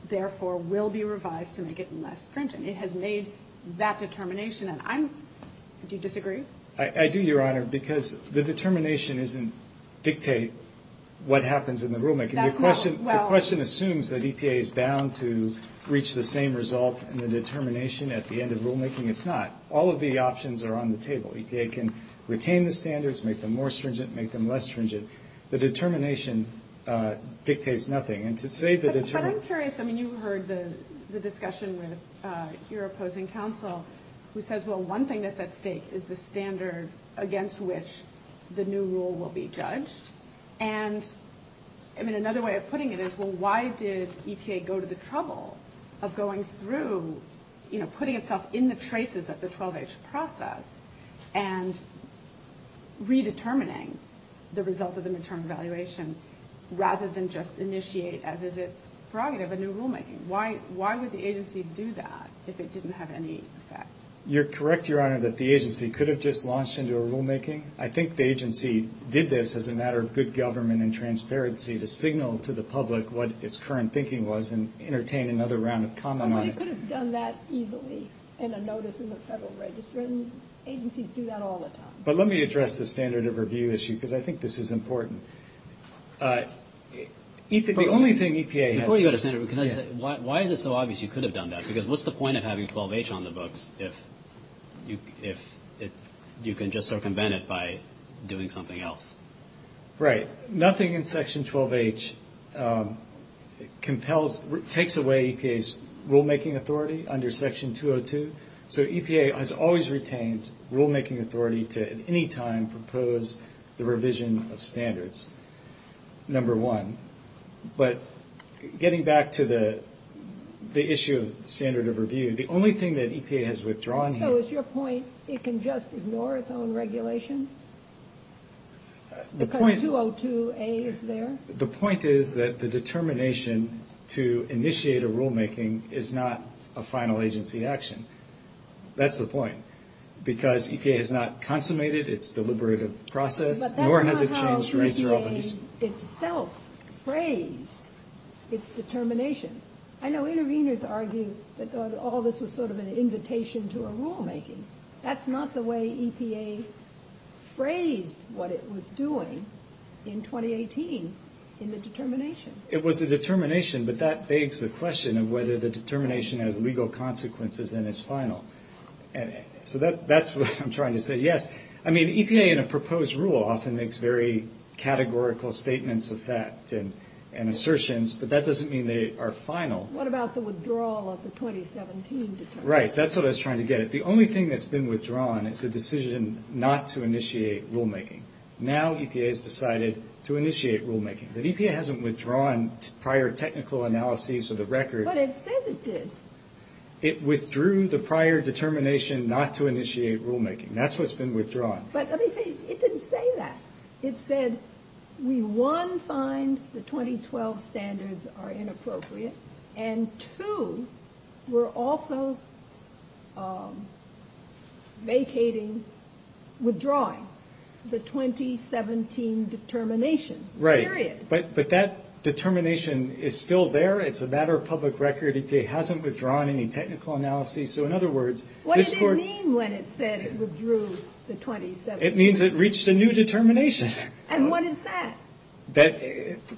therefore will be revised to make it less stringent. It has made that determination. Do you disagree? I do, Your Honor, because the determination doesn't dictate what happens in the rulemaking. The question assumes that EPA is bound to reach the same result in the determination at the end of rulemaking. It's not. All of the options are on the table. EPA can retain the standards, make them more stringent, make them less stringent. The determination dictates nothing. I'm curious. I mean, you heard the discussion with your opposing counsel, who says, well, one thing that's at stake is the standard against which the new rule will be judged. And, I mean, another way of putting it is, well, why did EPA go to the trouble of going through, you know, putting itself in the traces of the 12H process and redetermining the results of an interim evaluation rather than just initiate as is its prerogative a new rulemaking? Why would the agency do that if it didn't have any effect? You're correct, Your Honor, that the agency could have just launched into a rulemaking. I think the agency did this as a matter of good government and transparency to signal to the public what its current thinking was and entertain another round of comment on it. Well, they could have done that easily in a notice in the Federal Register, and agencies do that all the time. But let me address the standard of review issue because I think this is important. The only thing EPA has... Before you go to standard review, can I just say, why is it so obvious you could have done that? Because what's the point of having 12H on the books if you can just circumvent it by doing something else? Right. Nothing in Section 12H compels, takes away EPA's rulemaking authority under Section 202. So EPA has always retained rulemaking authority to at any time propose the revision of standards, number one. But getting back to the issue of standard of review, the only thing that EPA has withdrawn here... So is your point it can just ignore its own regulation because 202A is there? The point is that the determination to initiate a rulemaking is not a final agency action. That's the point because EPA has not consummated its deliberative process... But that's not how EPA itself phrased its determination. I know interveners argue that all this is sort of an invitation to a rulemaking. That's not the way EPA phrased what it was doing in 2018 in the determination. It was the determination, but that begs the question of whether the determination has legal consequences and is final. So that's what I'm trying to say. Yes. I mean, EPA in a proposed rule often makes very categorical statements of facts and assertions, but that doesn't mean they are final. What about the withdrawal of the 2017 determination? Right. That's what I was trying to get at. The only thing that's been withdrawn is the decision not to initiate rulemaking. Now EPA has decided to initiate rulemaking. But EPA hasn't withdrawn prior technical analyses of the record. But it says it did. It withdrew the prior determination not to initiate rulemaking. That's what's been withdrawn. But let me say, it didn't say that. It said we, one, find the 2012 standards are inappropriate, and two, we're also vacating, withdrawing the 2017 determination. Right. Period. But that determination is still there. It's a matter of public record. It hasn't withdrawn any technical analyses. So in other words, this court... What did it mean when it said it withdrew the 2017 determination? It means it reached a new determination. And what is that?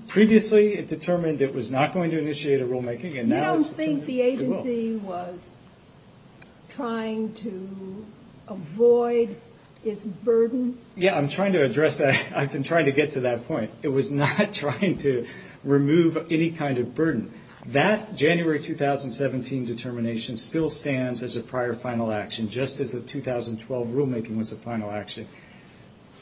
Previously it determined it was not going to initiate a rulemaking, and now... You don't think the agency was trying to avoid its burden? Yeah, I'm trying to address that. I've been trying to get to that point. It was not trying to remove any kind of burden. That January 2017 determination still stands as a prior final action, just as the 2012 rulemaking was a final action.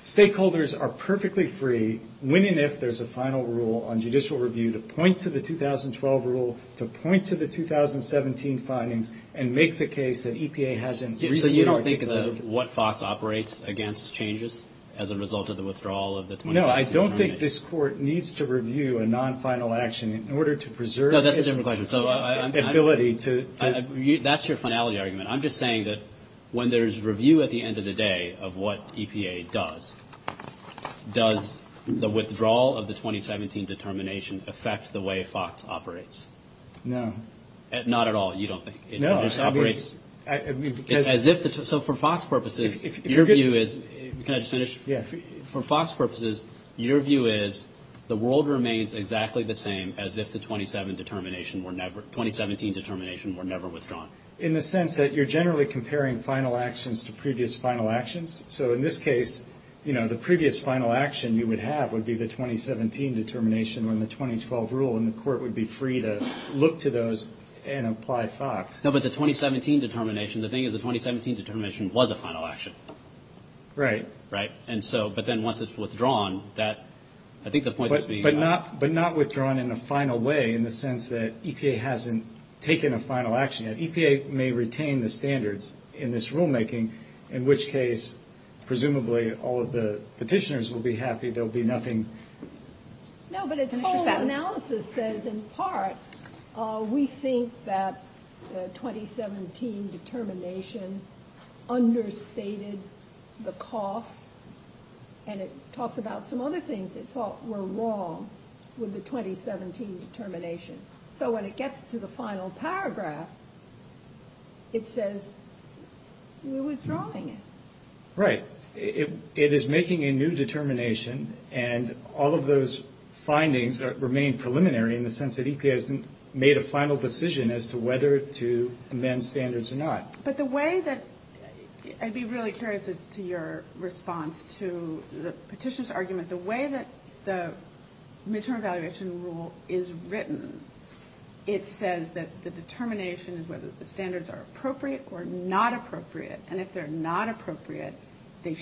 Stakeholders are perfectly free, when and if there's a final rule on judicial review, to point to the 2012 rule, to point to the 2017 findings, and make the case that EPA hasn't... So you don't think that what FOX operates against changes as a result of the withdrawal of the... No, I don't think this court needs to review a non-final action in order to preserve its ability to... That's your finality argument. I'm just saying that when there's review at the end of the day of what EPA does, does the withdrawal of the 2017 determination affect the way FOX operates? No. Not at all, you don't think? No. I mean, because... So for FOX purposes, your view is... Can I just finish? Yeah. For FOX purposes, your view is the world remains exactly the same as if the 2017 determination were never withdrawn. In the sense that you're generally comparing final actions to previous final actions. So in this case, you know, the previous final action you would have would be the 2017 determination on the 2012 rule, and the court would be free to look to those and apply FOX. No, but the 2017 determination, the thing is the 2017 determination was a final action. Right. Right. And so, but then once it's withdrawn, that... But not withdrawn in a final way in the sense that EPA hasn't taken a final action yet. EPA may retain the standards in this rulemaking, in which case, presumably, all of the petitioners will be happy. There'll be nothing... No, but its whole analysis says, in part, we think that the 2017 determination understated the cost, and it talks about some other things it thought were wrong with the 2017 determination. So when it gets to the final paragraph, it says we withdrawing it. Right. But it is making a new determination, and all of those findings remain preliminary in the sense that EPA hasn't made a final decision as to whether to amend standards or not. But the way that... I'd be really curious as to your response to the petitioner's argument. The way that the midterm evaluation rule is written, it says that the determination is whether the standards are appropriate or not appropriate. And if they're not appropriate, the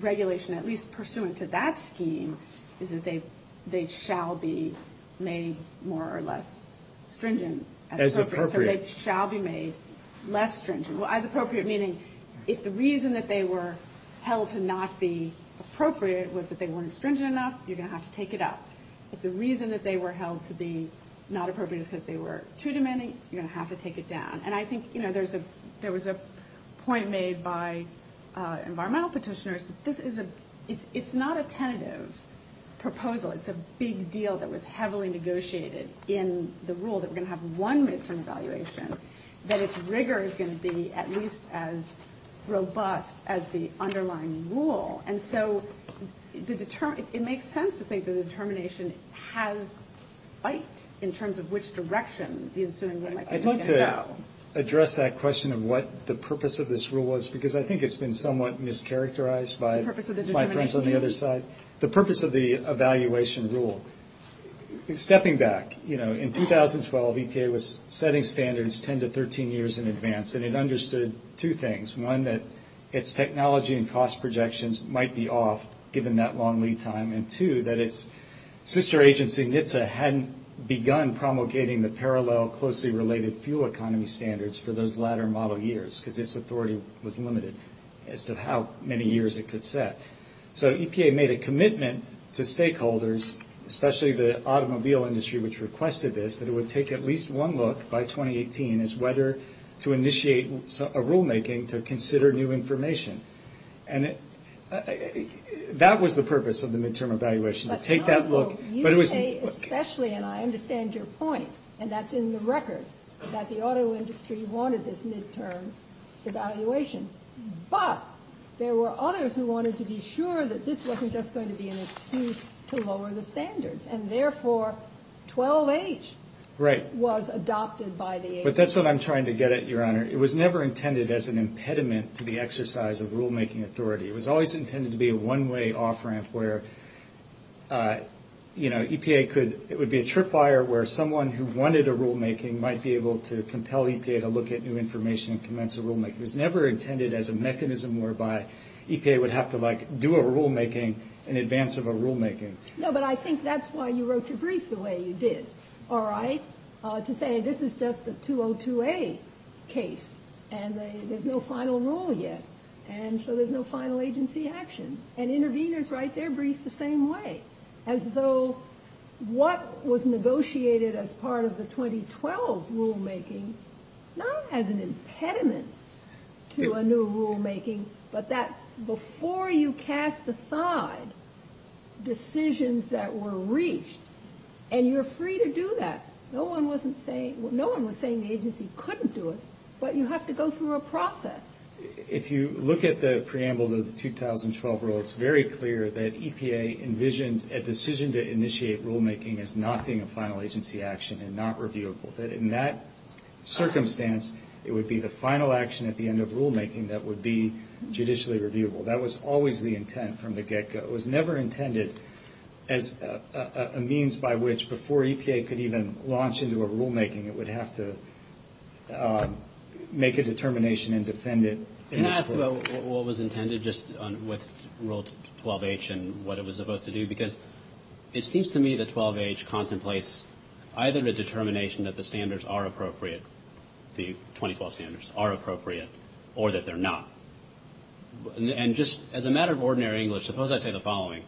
regulation, at least pursuant to that scheme, is that they shall be made more or less stringent. As appropriate. As appropriate, meaning if the reason that they were held to not be appropriate was that they weren't stringent enough, you're going to have to take it up. If the reason that they were held to be not appropriate is because they were too demanding, you're going to have to take it down. And I think, you know, there was a point made by environmental petitioners. This is a... It's not a tentative proposal. It's a big deal that was heavily negotiated in the rule that we're going to have one midterm evaluation. But its rigor is going to be at least as robust as the underlying rule. And so it makes sense to think the determination has fight in terms of which direction the institution might want to go. I want to address that question of what the purpose of this rule was, because I think it's been somewhat mischaracterized by friends on the other side. The purpose of the evaluation rule. Stepping back, you know, in 2012, ETA was setting standards 10 to 13 years in advance. And it understood two things. One, that its technology and cost projections might be off given that long lead time. And two, that its sister agency NHTSA hadn't begun promulgating the parallel closely related fuel economy standards for those latter model years, because its authority was limited as to how many years it could set. So EPA made a commitment to stakeholders, especially the automobile industry, which requested this, that it would take at least one look by 2018 as whether to initiate a rulemaking to consider new information. And that was the purpose of the midterm evaluation, to take that look. You say especially, and I understand your point, and that's in the record, that the auto industry wanted this midterm evaluation. But there were others who wanted to be sure that this wasn't just going to be an excuse to lower the standards. And therefore, 12H was adopted by the agency. But that's what I'm trying to get at, Your Honor. It was never intended as an impediment to the exercise of rulemaking authority. It was always intended to be a one-way off-ramp where, you know, EPA could – it would be a tripwire where someone who wanted a rulemaking might be able to compel EPA to look at new information and commence a rulemaking. It was never intended as a mechanism whereby EPA would have to, like, do a rulemaking in advance of a rulemaking. No, but I think that's why you wrote your brief the way you did, all right, to say this is just a 202A case. And there's no final rule yet, and so there's no final agency action. And interveners write their briefs the same way, as though what was negotiated as part of the 2012 rulemaking not as an impediment to a new rulemaking, but that before you cast aside decisions that were reached, and you're free to do that. No one was saying the agency couldn't do it, but you have to go through a process. If you look at the preamble to the 2012 rule, it's very clear that EPA envisioned a decision to initiate rulemaking as not being a final agency action and not reviewable. In that circumstance, it would be the final action at the end of rulemaking that would be judicially reviewable. That was always the intent from the get-go. It was never intended as a means by which, before EPA could even launch into a rulemaking, it would have to make a determination and defend it. Not what was intended, just what 12H and what it was supposed to do, because it seems to me that 12H contemplates either a determination that the standards are appropriate, the 2012 standards are appropriate, or that they're not. As a matter of ordinary English, suppose I say the following.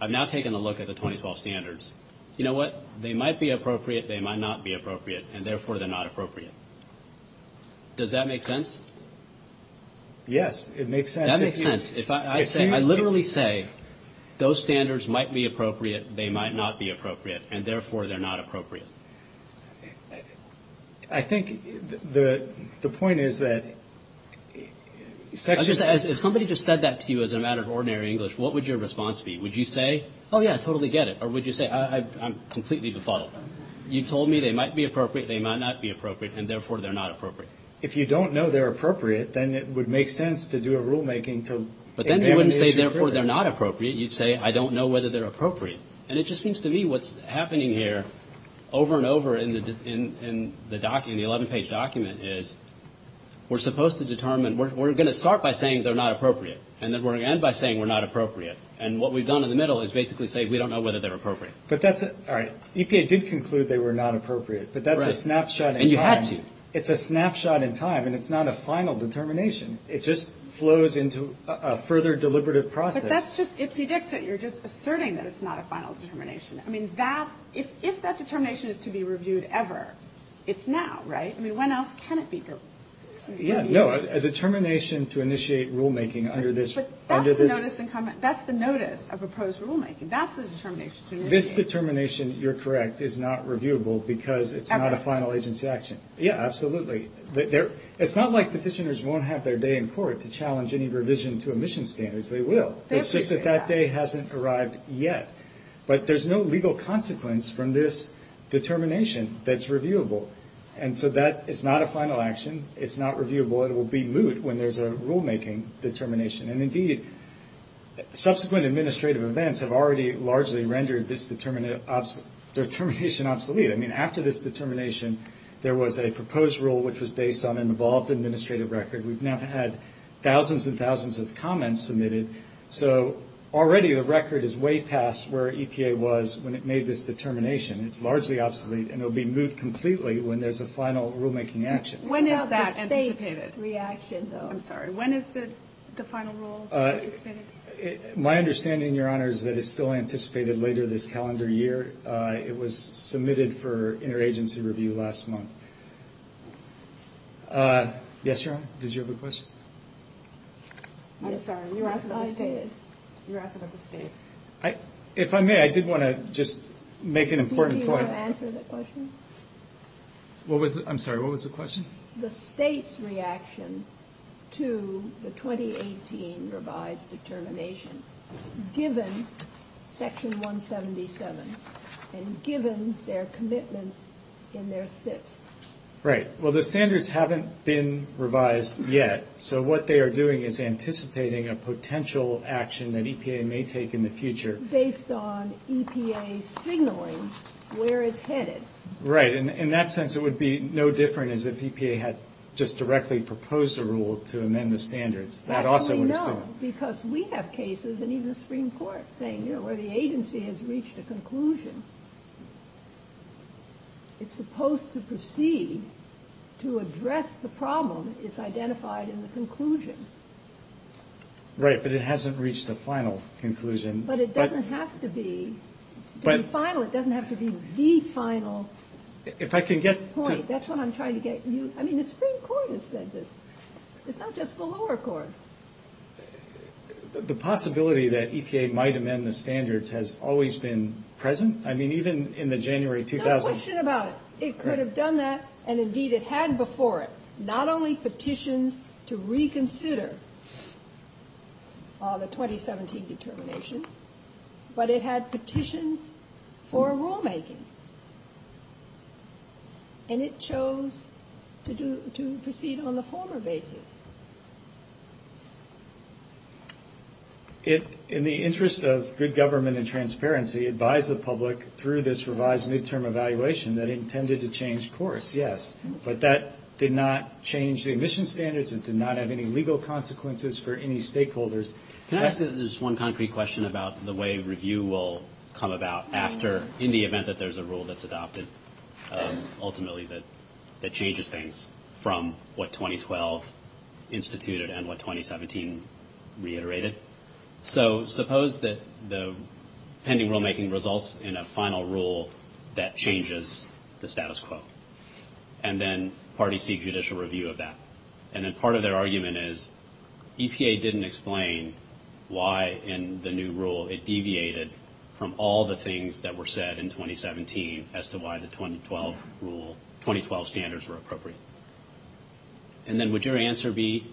I've now taken a look at the 2012 standards. You know what? They might be appropriate, they might not be appropriate, and therefore they're not appropriate. Does that make sense? Yes, it makes sense. That makes sense. I literally say those standards might be appropriate, they might not be appropriate, and therefore they're not appropriate. I think the point is that... If somebody just said that to you as a matter of ordinary English, what would your response be? Would you say, oh, yeah, I totally get it? Or would you say, I'm completely baffled? You told me they might be appropriate, they might not be appropriate, and therefore they're not appropriate. If you don't know they're appropriate, then it would make sense to do a rulemaking to... But then you wouldn't say, therefore they're not appropriate. You'd say, I don't know whether they're appropriate. And it just seems to me what's happening here over and over in the 11-page document is we're supposed to determine, we're going to start by saying they're not appropriate, and then we're going to end by saying they're not appropriate. And what we've done in the middle is basically say we don't know whether they're appropriate. All right. EPA did conclude they were not appropriate, but that's a snapshot in time. And you have to. It's a snapshot in time, and it's not a final determination. It just flows into a further deliberative process. But that's just... You're just asserting that it's not a final determination. I mean, if that determination is to be reviewed ever, it's now, right? I mean, when else can it be reviewed? Yeah, no. A determination to initiate rulemaking under this... But that's the notice of proposed rulemaking. That's the determination to initiate. This determination, you're correct, is not reviewable because it's not a final agency action. Yeah, absolutely. It's not like petitioners won't have their day in court to challenge any revision to emission standards. They will. It's just that that day hasn't arrived yet. But there's no legal consequence from this determination that's reviewable. And so that is not a final action. It's not reviewable. It will be moved when there's a rulemaking determination. And, indeed, subsequent administrative events have already largely rendered this determination obsolete. I mean, after this determination, there was a proposed rule which was based on an involved administrative record. We've now had thousands and thousands of comments submitted. So, already, the record is way past where EPA was when it made this determination. It's largely obsolete, and it will be moved completely when there's a final rulemaking action. When is that final rule? My understanding, Your Honor, is that it's still anticipated later this calendar year. It was submitted for interagency review last month. Yes, Your Honor. Did you have a question? I'm sorry. You're asking about the state. You're asking about the state. If I may, I did want to just make an important point. Do you want to answer the question? I'm sorry. What was the question? The state's reaction to the 2018 revised determination, given Section 177 and given their commitment in their SIFT. Right. Well, the standards haven't been revised yet, so what they are doing is anticipating a potential action that EPA may take in the future. Based on EPA signaling where it's headed. Right. In that sense, it would be no different as if EPA had just directly proposed a rule to amend the standards. That also works, too. No, because we have cases, and even Supreme Court, saying, you know, the agency has reached a conclusion. It's supposed to proceed to address the problem that's identified in the conclusion. Right, but it hasn't reached the final conclusion. But it doesn't have to be the final. It doesn't have to be the final point. That's what I'm trying to get at. I mean, the Supreme Court has said this. It's not just the lower court. The possibility that EPA might amend the standards has always been present. I mean, even in the January 2000s. No question about it. It could have done that, and indeed it had before it. It had not only petitions to reconsider the 2017 determination, but it had petitions for a rulemaking. And it chose to proceed on the former basis. In the interest of good government and transparency, it advised the public through this revised midterm evaluation that it intended to change course, yes. But that did not change the admission standards and did not have any legal consequences for any stakeholders. Can I ask just one concrete question about the way review will come about after, in the event that there's a rule that's adopted, ultimately that changes things from what 2012 instituted and what 2017 reiterated? Okay. So suppose that the pending rulemaking results in a final rule that changes the status quo. And then parties seek judicial review of that. And then part of their argument is EPA didn't explain why in the new rule it deviated from all the things that were said in 2017 as to why the 2012 rule, 2012 standards were appropriate. And then would your answer be,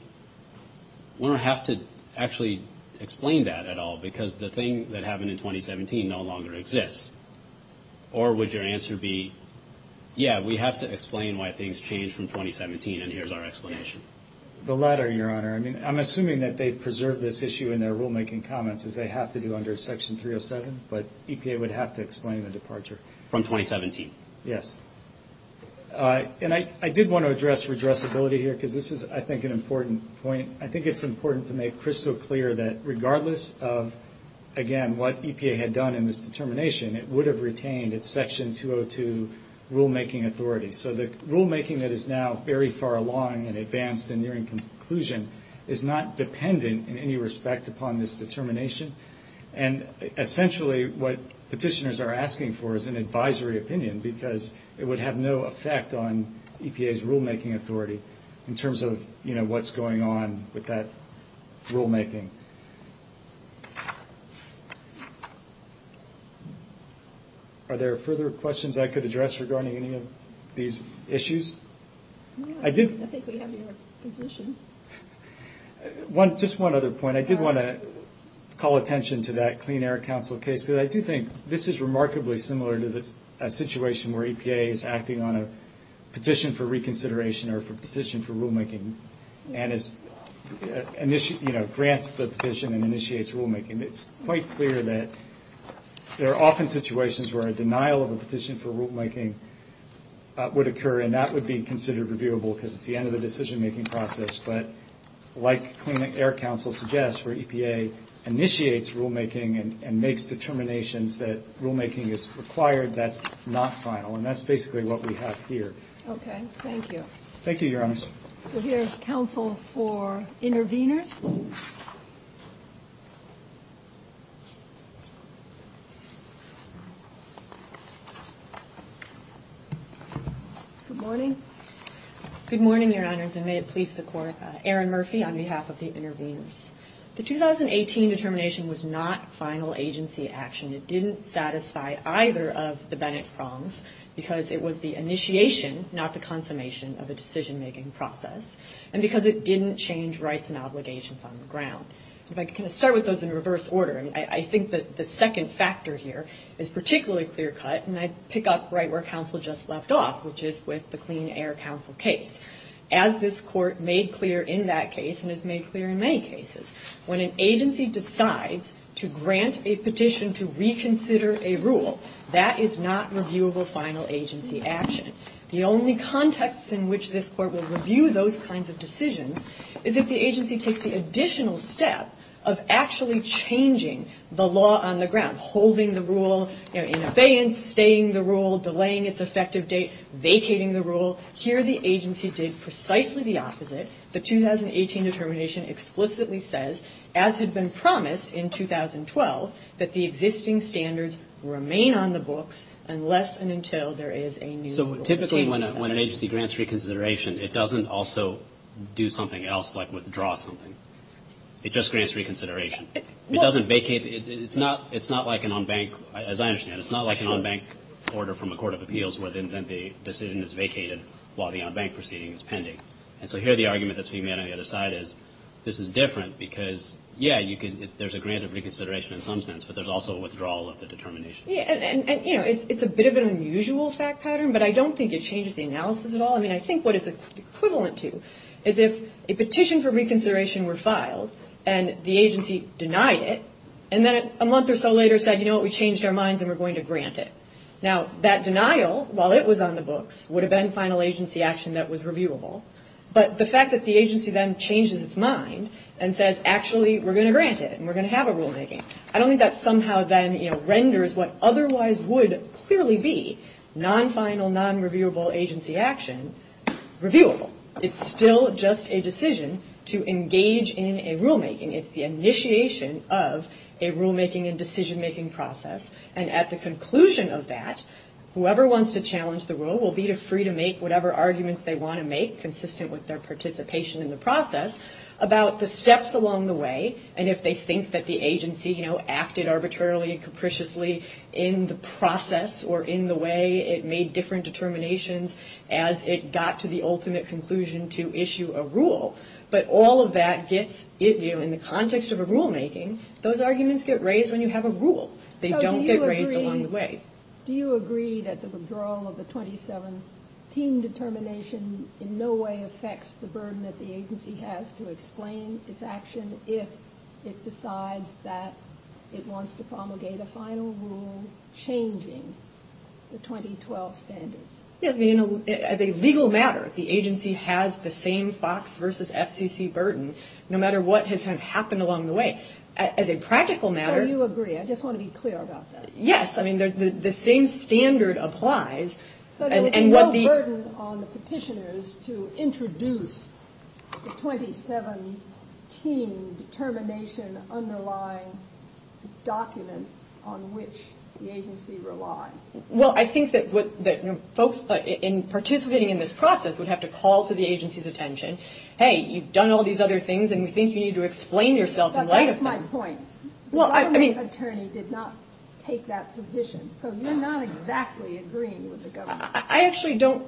we don't have to actually explain that at all because the thing that happened in 2017 no longer exists? Or would your answer be, yeah, we have to explain why things changed from 2017 and here's our explanation? The latter, Your Honor. I mean, I'm assuming that they've preserved this issue in their rulemaking comments as they have to do under Section 307, but EPA would have to explain the departure. From 2017? Yes. And I did want to address redressability here because this is, I think, an important point. I think it's important to make crystal clear that regardless of, again, what EPA had done in this determination, it would have retained its Section 202 rulemaking authority. So the rulemaking that is now very far along and advanced and nearing conclusion is not dependent in any respect upon this determination. And essentially what petitioners are asking for is an advisory opinion because it would have no effect on EPA's rulemaking authority in terms of, you know, what's going on with that rulemaking. Are there further questions I could address regarding any of these issues? I think we have your position. Just one other point. I did want to call attention to that Clean Air Council case because I do think this is remarkably similar to a situation where EPA is acting on a petition for reconsideration or a petition for rulemaking and it grants the petition and initiates rulemaking. It's quite clear that there are often situations where a denial of a petition for rulemaking would occur and that would be considered reviewable because it's the end of the decision-making process. But like Clean Air Council suggests, where EPA initiates rulemaking and makes determinations that rulemaking is required, that's not final. And that's basically what we have here. Okay. Thank you. Thank you, Your Honor. So here is counsel for interveners. Good morning. Good morning, Your Honors, and may it please the Court. Erin Murphy on behalf of the interveners. The 2018 determination was not final agency action. It didn't satisfy either of the Bennett problems because it was the initiation, not the consummation, of a decision-making process. And because it didn't change rights and obligations on the ground. If I could kind of start with those in reverse order. I think that the second factor here is particularly clear-cut, and I pick up right where counsel just left off, which is with the Clean Air Council case. As this Court made clear in that case and has made clear in many cases, when an agency decides to grant a petition to reconsider a rule, that is not reviewable final agency action. The only context in which this Court will review those kinds of decisions is if the agency takes the additional step of actually changing the law on the ground, holding the rule in abeyance, staying the rule, delaying its effective date, vacating the rule. Here the agency did precisely the opposite. The 2018 determination explicitly says, as had been promised in 2012, that the existing standards remain on the book unless and until there is a new rule. Typically when an agency grants reconsideration, it doesn't also do something else like withdraw something. It just grants reconsideration. It doesn't vacate. It's not like an on-bank, as I understand it, it's not like an on-bank order from a court of appeals where then the decision is vacated while the on-bank proceeding is pending. And so here the argument that's being made on the other side is this is different because, yeah, there's a grant of reconsideration in some sense, but there's also a withdrawal of the determination. And, you know, it's a bit of an unusual fact pattern, but I don't think it changes the analysis at all. I mean, I think what it's equivalent to is if a petition for reconsideration were filed and the agency denied it and then a month or so later said, you know what, we changed our minds and we're going to grant it. Now, that denial, while it was on the books, would have been final agency action that was reviewable. But the fact that the agency then changes its mind and says, actually, we're going to grant it and we're going to have a rulemaking, I don't think that somehow then, you know, renders what otherwise would clearly be non-final, non-reviewable agency action reviewable. It's still just a decision to engage in a rulemaking. It's the initiation of a rulemaking and decision-making process. And at the conclusion of that, whoever wants to challenge the rule will be free to make whatever arguments they want to make consistent with their participation in the process about the steps along the way and if they think that the agency, you know, acted arbitrarily and capriciously in the process or in the way it made different determinations as it got to the ultimate conclusion to issue a rule. But all of that gets you, in the context of a rulemaking, those arguments get raised when you have a rule. They don't get raised along the way. Do you agree that the withdrawal of the 2017 determination in no way affects the burden that the agency has to explain its action if it decides that it wants to promulgate a final rule changing the 2012 standard? As a legal matter, the agency has the same FOX versus FCC burden no matter what has happened along the way. As a practical matter... So you agree. I just want to be clear about that. Yes. I mean, the same standard applies. But it's no burden on the petitioners to introduce the 2017 determination underlying document on which the agency relies. Well, I think that folks participating in this process would have to call to the agency's attention, hey, you've done all these other things and we think you need to explain yourself in light of them. That's my point. Well, I mean... The attorney did not take that position. So you're not exactly agreeing with the government. I actually don't...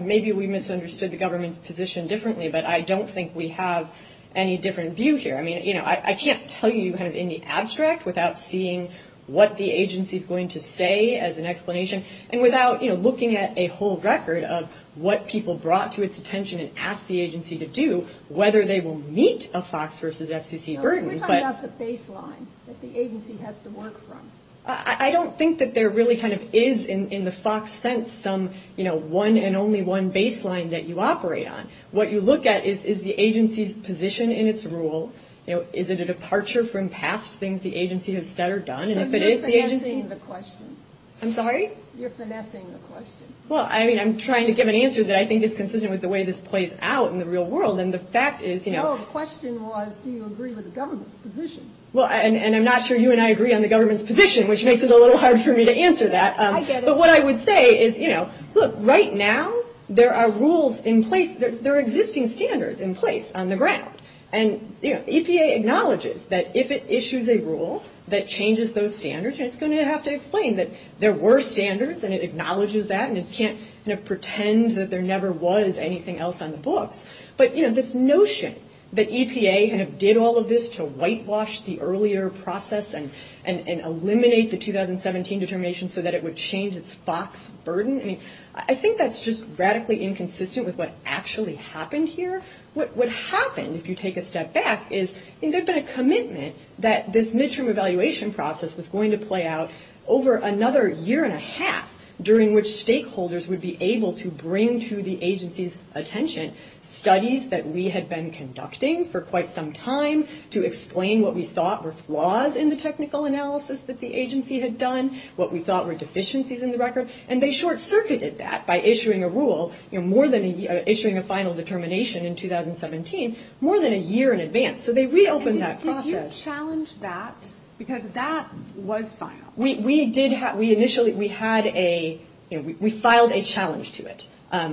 Maybe we misunderstood the government's position differently, but I don't think we have any different view here. I mean, you know, I can't tell you kind of in the abstract without seeing what the agency is going to say as an explanation and without, you know, looking at a whole record of what people brought to its attention and asked the agency to do, whether they will meet a FOX versus FCC burden. That's a baseline that the agency has to work from. I don't think that there really kind of is in the FOX sense some, you know, one and only one baseline that you operate on. What you look at is the agency's position in its rule, you know, is it a departure from past things the agency has said or done, and if it is the agency... You're finessing the question. I'm sorry? You're finessing the question. Well, I mean, I'm trying to give an answer that I think is consistent with the way this plays out in the real world, and the fact is, you know... Well, the question was, do you agree with the government's position? Well, and I'm not sure you and I agree on the government's position, which makes it a little hard for me to answer that. I get it. But what I would say is, you know, look, right now there are rules in place, there are existing standards in place on the ground. And, you know, EPA acknowledges that if it issues a rule that changes those standards, it's going to have to explain that there were standards, and it acknowledges that, and it can't, you know, pretend that there never was anything else on the books. But, you know, this notion that EPA kind of did all of this to whitewash the earlier process and eliminate the 2017 determination so that it would change its FOX burden, I mean, I think that's just radically inconsistent with what actually happened here. What happened, if you take a step back, is there's been a commitment that this midterm evaluation process was going to play out over another year and a half, during which stakeholders would be able to bring to the agency's attention studies that we had been conducting for quite some time to explain what we thought were flaws in the technical analysis that the agency had done, what we thought were deficiencies in the record. And they short-circuited that by issuing a rule, you know, more than, issuing a final determination in 2017, more than a year in advance. So they reopened that process. So you challenged that because that was final? We did have, we initially, we had a, you know, we filed a challenge to it.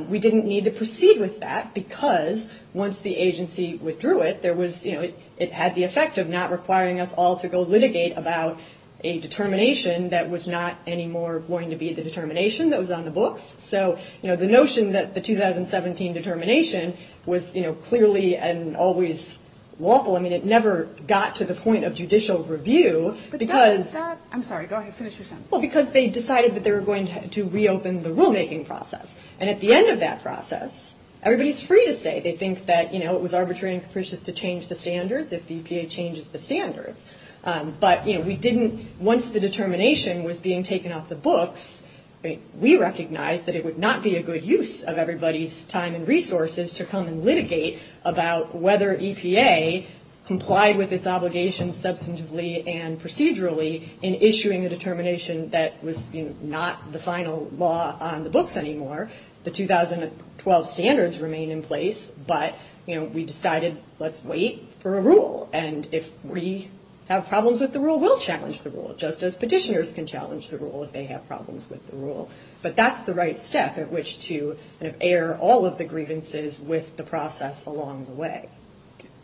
We didn't need to proceed with that because once the agency withdrew it, there was, you know, it had the effect of not requiring us all to go litigate about a determination that was not anymore going to be the determination that was on the books. So, you know, the notion that the 2017 determination was, you know, clearly and always wobble, I mean, it never got to the point of judicial review because... I'm sorry. Go ahead. Finish your sentence. Well, because they decided that they were going to reopen the rulemaking process. And at the end of that process, everybody's free to say they think that, you know, it was arbitrary and capricious to change the standards if the EPA changes the standards. But, you know, we didn't, once the determination was being taken off the books, we recognized that it would not be a good use of everybody's time and resources to come and litigate about whether EPA complied with its obligations substantively and procedurally in issuing a determination that was not the final law on the books anymore. The 2012 standards remain in place. But, you know, we decided let's wait for a rule. And if we have problems with the rule, we'll challenge the rule just as petitioners can challenge the rule if they have problems with the rule. But that's the right step at which to air all of the grievances with the process along the way.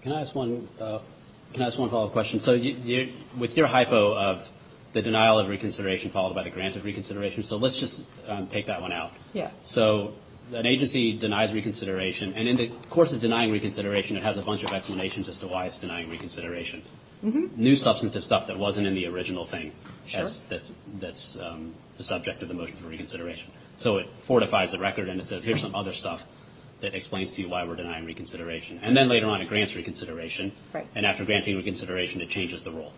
Can I ask one follow-up question? So with your hypo of the denial of reconsideration followed by the granted reconsideration, so let's just take that one out. So an agency denies reconsideration. And in the course of denying reconsideration, it has a bunch of explanations as to why it's denying reconsideration. New substantive stuff that wasn't in the original thing that's the subject of the motion for reconsideration. So it fortifies the record and it says here's some other stuff that explains to you why we're denying reconsideration. And then later on it grants reconsideration. Right. And after granting reconsideration, it changes the rule.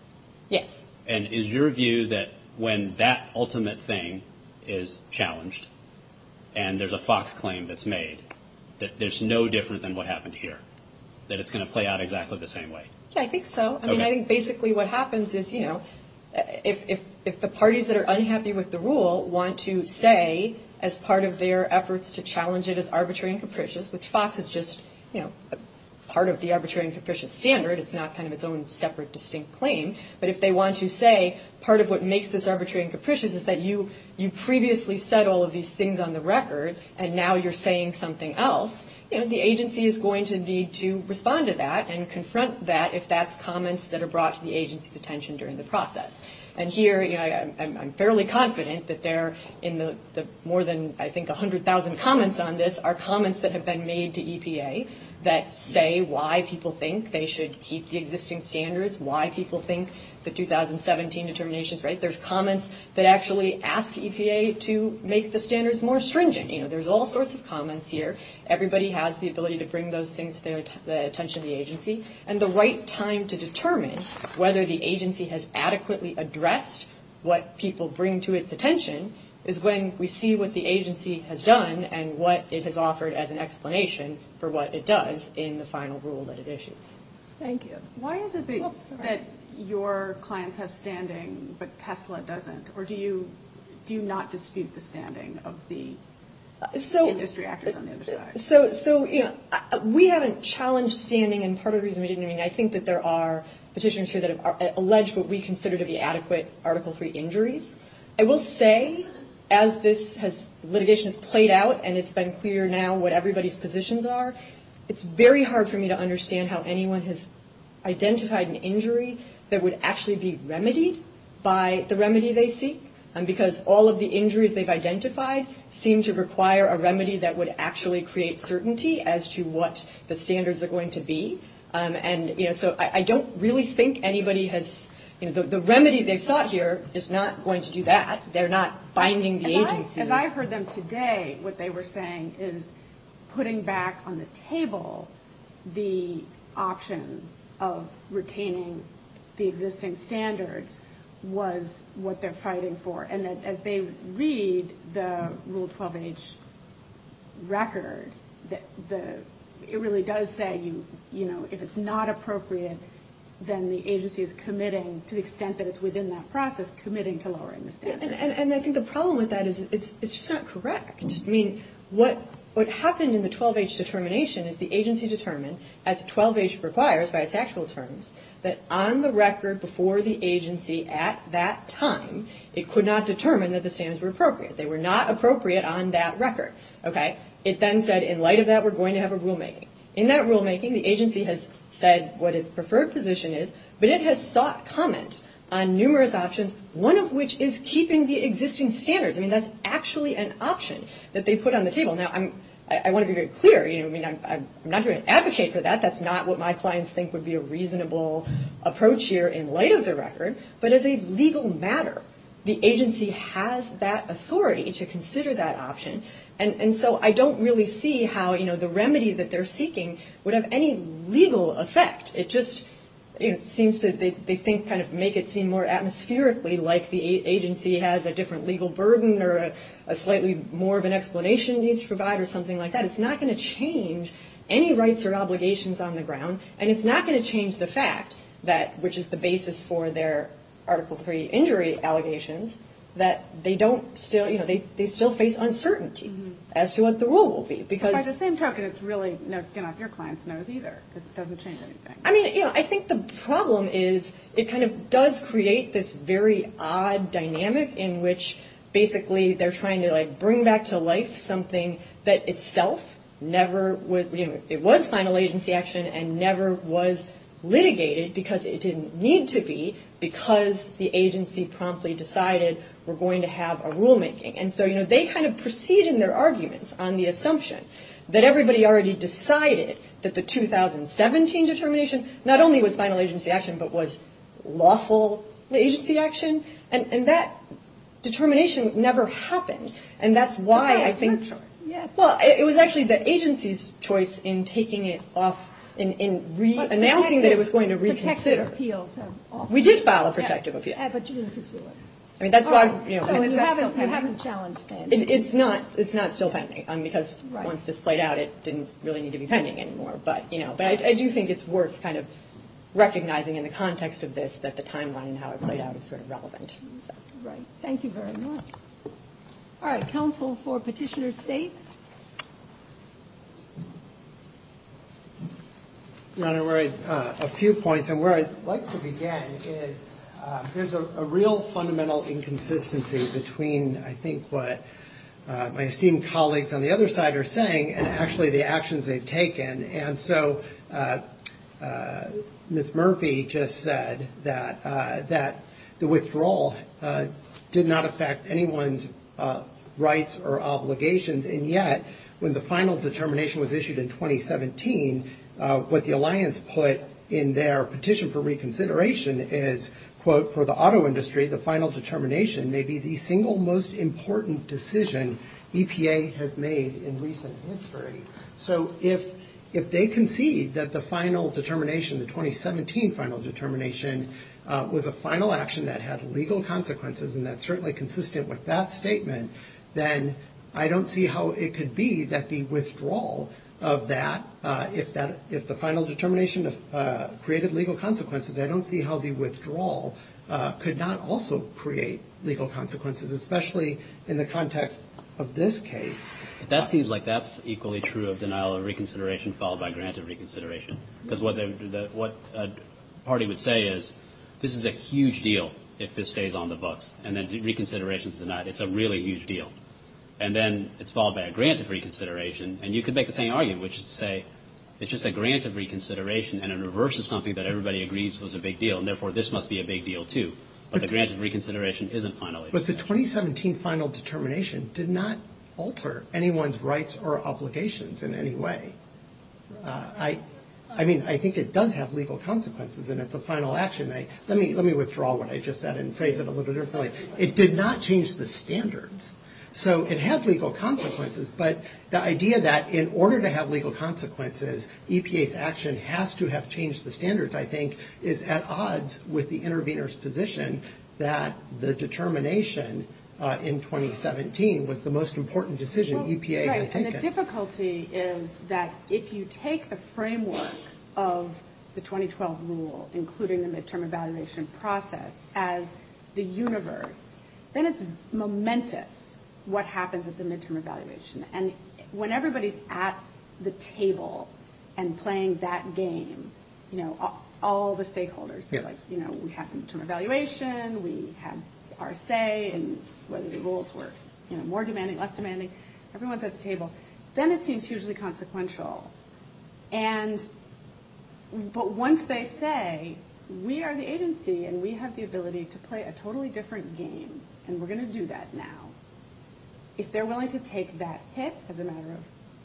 Yes. And is your view that when that ultimate thing is challenged and there's a FOX claim that's made, that there's no difference in what happened here? That it's going to play out exactly the same way? Yeah, I think so. Okay. I think basically what happens is, you know, if the parties that are unhappy with the rule want to say as part of their efforts to challenge it as arbitrary and capricious, which FOX is just, you know, part of the arbitrary and capricious standard, it's not kind of its own separate distinct claim, but if they want to say part of what makes this arbitrary and capricious is that you previously said all of these things on the record and now you're saying something else, you know, the agency is going to need to respond to that and confront that if that's comments that are brought to the agency's attention during the process. And here, you know, I'm fairly confident that there, in the more than I think 100,000 comments on this, are comments that have been made to EPA that say why people think they should keep the existing standards, why people think the 2017 determination is right. There's comments that actually ask EPA to make the standards more stringent. You know, there's all sorts of comments here. Everybody has the ability to bring those things to the attention of the agency. And the right time to determine whether the agency has adequately addressed what people bring to its attention is when we see what the agency has done and what it has offered as an explanation for what it does in the final rule that it issues. Thank you. Why is it that your client has standing but TESLA doesn't? Or do you not dispute the standing of the industry actors on the other side? So, you know, we haven't challenged standing. And part of the reason we didn't, I mean, I think that there are positions here that have alleged what we consider to be adequate Article III injuries. I will say, as this litigation has played out and it's been clear now what everybody's positions are, it's very hard for me to understand how anyone has identified an injury that would actually be remedied by the remedy they seek because all of the injuries they've identified seem to require a remedy that would actually create certainty as to what the standards are going to be. And, you know, so I don't really think anybody has, you know, the remedy they've sought here is not going to do that. They're not binding the agency. As I've heard them today, what they were saying is putting back on the table the option of retaining the existing standards was what they're fighting for. And as they read the Rule 12H record, it really does say, you know, if it's not appropriate, then the agency is committing to the extent that it's within that process, committing to lowering the standards. And I think the problem with that is it's just not correct. I mean, what happened in the 12H determination is the agency determined, as 12H requires by its actual terms, that on the record before the agency at that time, it could not determine that the standards were appropriate. They were not appropriate on that record, okay? It then said, in light of that, we're going to have a rulemaking. In that rulemaking, the agency has said what its preferred position is, but it has sought comment on numerous options, one of which is keeping the existing standards. I mean, that's actually an option that they put on the table. Now, I want to be very clear. I mean, I'm not going to advocate for that. That's not what my clients think would be a reasonable approach here in light of the record. But as a legal matter, the agency has that authority to consider that option. And so I don't really see how, you know, the remedy that they're seeking would have any legal effect. It just seems to, they think, kind of make it seem more atmospherically like the agency has a different legal burden or a slightly more of an explanation needs to provide or something like that. It's not going to change any rights or obligations on the ground. And it's not going to change the fact that, which is the basis for their Article III injury allegations, that they don't still, you know, they still face uncertainty as to what the rule will be. At the same time, it's really no skin off your client's nose either. It doesn't change anything. I mean, you know, I think the problem is it kind of does create this very odd dynamic in which, basically, they're trying to, like, bring back to life something that itself never was, you know, it was final agency action and never was litigated because it didn't need to be because the agency promptly decided we're going to have a rulemaking. And so, you know, they kind of proceeded in their arguments on the assumption that everybody already decided that the 2017 determination not only was final agency action but was lawful agency action. And that determination never happened. And that's why I think, well, it was actually the agency's choice in taking it off, in announcing that it was going to reconsider. We did file a protective appeal. I mean, that's why, you know, it's not still pending because once this played out, it didn't really need to be pending anymore. But, you know, I do think it's worth kind of recognizing in the context of this that the timeline and how it played out is sort of relevant. Right. Thank you very much. All right. Counsel for Petitioner State? I'm going to raise a few points. And where I'd like to begin is there's a real fundamental inconsistency between, I think, what my esteemed colleagues on the other side are saying and actually the actions they've taken. And so Ms. Murphy just said that the withdrawal did not affect anyone's rights or obligations. And yet, when the final determination was issued in 2017, what the alliance put in their petition for reconsideration is, quote, for the auto industry, the final determination may be the single most important decision EPA has made in recent history. So if they concede that the final determination, the 2017 final determination, was a final action that had legal consequences and that's certainly consistent with that statement, then I don't see how it could be that the withdrawal of that, if the final determination created legal consequences, I don't see how the withdrawal could not also create legal consequences, especially in the context of this case. That seems like that's equally true of denial of reconsideration followed by granted reconsideration. Because what a party would say is this is a huge deal if this stays on the books. And then reconsideration's denied. It's a really huge deal. And then it's followed by a grant of reconsideration. And you could make the same argument, which is to say it's just a grant of reconsideration and it reverses something that everybody agrees was a big deal. And therefore, this must be a big deal, too. But the grant of reconsideration isn't final. But the 2017 final determination did not alter anyone's rights or obligations in any way. I mean, I think it does have legal consequences. Let me withdraw what I just said and say it a little differently. It did not change the standards. So it has legal consequences. But the idea that in order to have legal consequences, EPA's action has to have changed the standards, I think, is at odds with the intervener's position that the determination in 2017 was the most important decision EPA had taken. And the difficulty is that if you take the framework of the 2012 rule, including the midterm evaluation process, as the universe, then it's momentous what happens at the midterm evaluation. And when everybody's at the table and playing that game, you know, all the stakeholders feel like, you know, we had midterm evaluation, we had par se, and whether the rules were, you know, more demanding, less demanding. Everyone's at the table. Then it seems hugely consequential. But once they say, we are the agency and we have the ability to play a totally different game, and we're going to do that now, if they're willing to take that hit as a matter of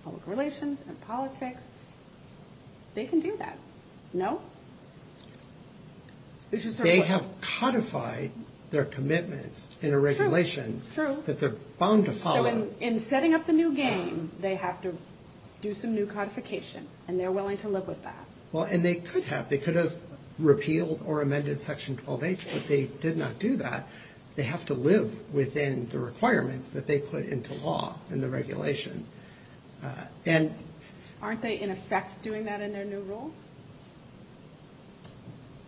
public relations and politics, they can do that. No? They have codified their commitment in a regulation that they're bound to follow. So in setting up the new game, they have to do some new codification, and they're willing to live with that. Well, and they could have. They could have repealed or amended Section 12H, but they did not do that. They have to live within the requirements that they put into law in the regulation. And... Aren't they in effect doing that in their new rules?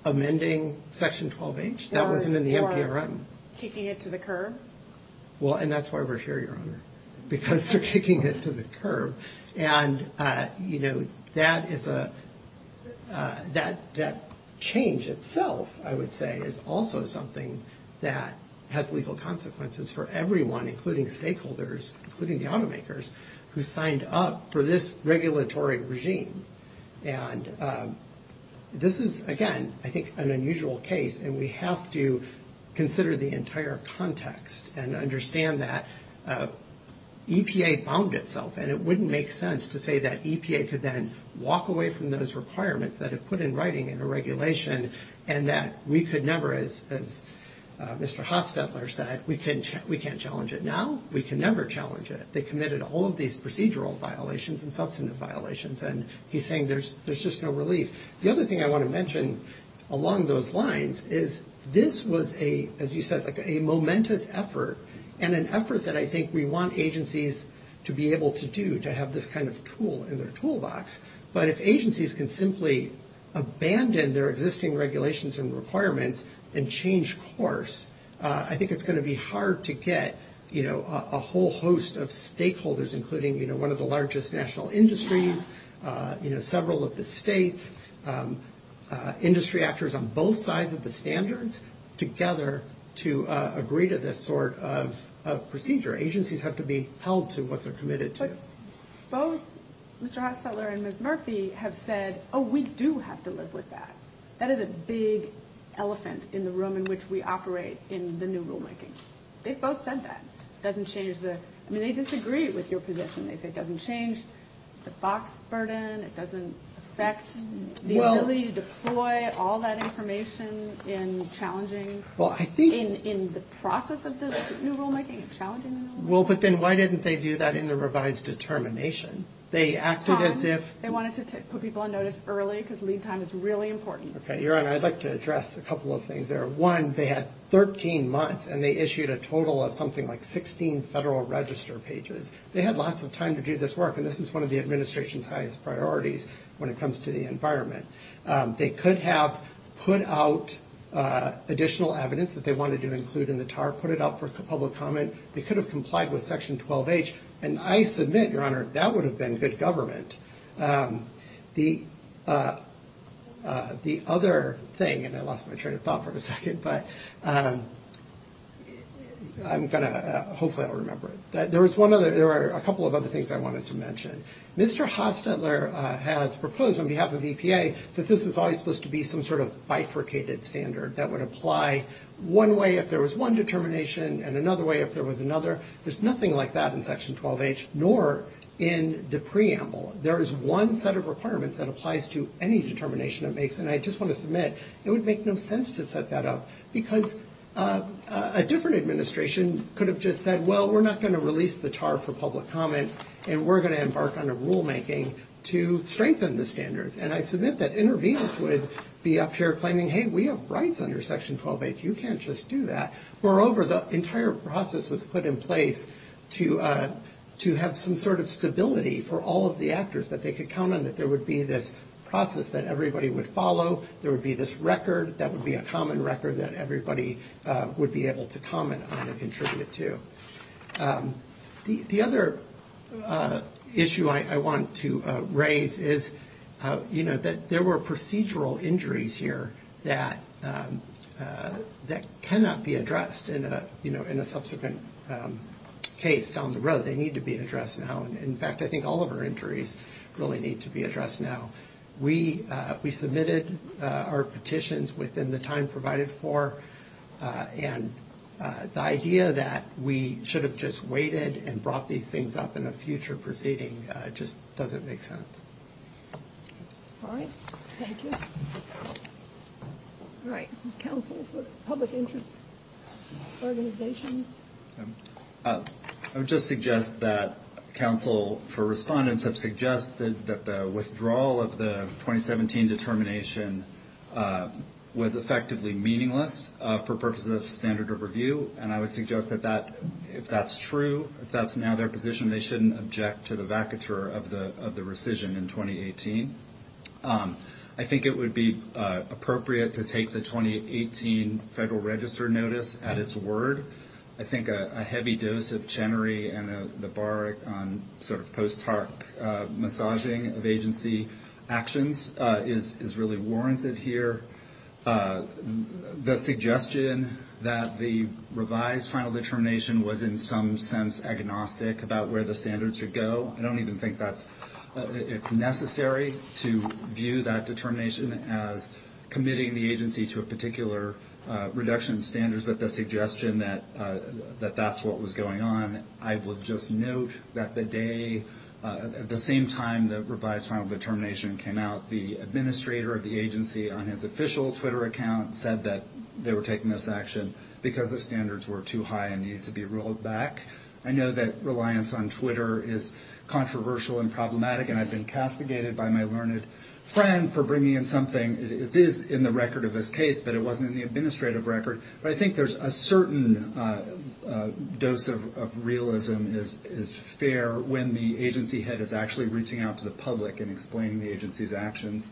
Amending Section 12H? That was in the NPRM. Kicking it to the curb? Well, and that's why we're here, Your Honor, because they're kicking it to the curb. And, you know, that is a... That change itself, I would say, is also something that has legal consequences for everyone, including stakeholders, including the automakers, who signed up for this regulatory regime. And this is, again, I think an unusual case, and we have to consider the entire context and understand that EPA bound itself, and it wouldn't make sense to say that EPA could then walk away from those requirements that it put in writing in the regulation and that we could never, as Mr. Hostetler said, we can't challenge it now. We can never challenge it. They committed all of these procedural violations and substantive violations, and he's saying there's just no relief. The other thing I want to mention along those lines is this was a, as you said, like a momentous effort, and an effort that I think we want agencies to be able to do, to have this kind of tool in their toolbox. But if agencies can simply abandon their existing regulations and requirements and change course, I think it's going to be hard to get, you know, a whole host of stakeholders, including, you know, one of the largest national industries, you know, several of the states, industry actors on both sides of the standards together to agree to this sort of procedure. Agencies have to be held to what they're committed to. Both Mr. Hostetler and Ms. Murphy have said, oh, we do have to live with that. That is a big elephant in the room in which we operate in the new rulemaking. They both said that. It doesn't change the, I mean, they disagree with your position. If it doesn't change the FOX burden, it doesn't affect the ability to deploy all that information in challenging, in the process of the new rulemaking, challenging the new rulemaking. Well, but then why didn't they do that in the revised determination? They asked it as if. They wanted to put people on notice early because lead time is really important. Okay, Erin, I'd like to address a couple of things there. One, they had 13 months, and they issued a total of something like 16 federal register pages. They had lots of time to do this work, and this is one of the administration's highest priorities when it comes to the environment. They could have put out additional evidence that they wanted to include in the TAR, put it out for public comment. They could have complied with Section 12H, and I submit, Your Honor, that would have been good government. The other thing, and I lost my train of thought for a second, but I'm going to hopefully I'll remember it. There are a couple of other things I wanted to mention. Mr. Hofstetler has proposed on behalf of EPA that this was always supposed to be some sort of bifurcated standard that would apply one way if there was one determination and another way if there was another. There's nothing like that in Section 12H, nor in the preamble. There is one set of requirements that applies to any determination it makes, and I just want to submit, it would make no sense to set that up because a different administration could have just said, well, we're not going to release the TAR for public comment, and we're going to embark on a rulemaking to strengthen the standards. And I submit that interveners would be up here claiming, hey, we have rights under Section 12H. You can't just do that. Moreover, the entire process was put in place to have some sort of stability for all of the actors, that they could count on that there would be this process that everybody would follow, there would be this record that would be a common record that everybody would be able to comment on and contribute to. The other issue I want to raise is, you know, that there were procedural injuries here that cannot be addressed in a subsequent case on the road. They need to be addressed now. In fact, I think all of our injuries really need to be addressed now. We submitted our petitions within the time provided for, and the idea that we should have just waited and brought these things up in a future proceeding just doesn't make sense. All right. Thank you. All right. Council, public interest organizations? I would just suggest that counsel for respondents have suggested that the withdrawal of the 2017 determination was effectively meaningless for purposes of standard of review, and I would suggest that if that's true, if that's now their position, they shouldn't object to the vacatur of the rescission in 2018. I think it would be appropriate to take the 2018 Federal Register notice at its word. I think a heavy dose of Chenery and the bark on sort of post hoc massaging of agency actions is really warranted here. The suggestion that the revised final determination was in some sense agnostic about where the standards should go, I don't even think it's necessary to view that determination as committing the agency to a particular reduction in standards, but the suggestion that that's what was going on, I would just note that the day, at the same time the revised final determination came out, the administrator of the agency on his official Twitter account said that they were taking this action because the standards were too high and needed to be rolled back. I know that reliance on Twitter is controversial and problematic and has been castigated by my learned friend for bringing in something. It is in the record of this case, but it wasn't in the administrative record. But I think there's a certain dose of realism is fair when the agency head is actually reaching out to the public and explaining the agency's actions.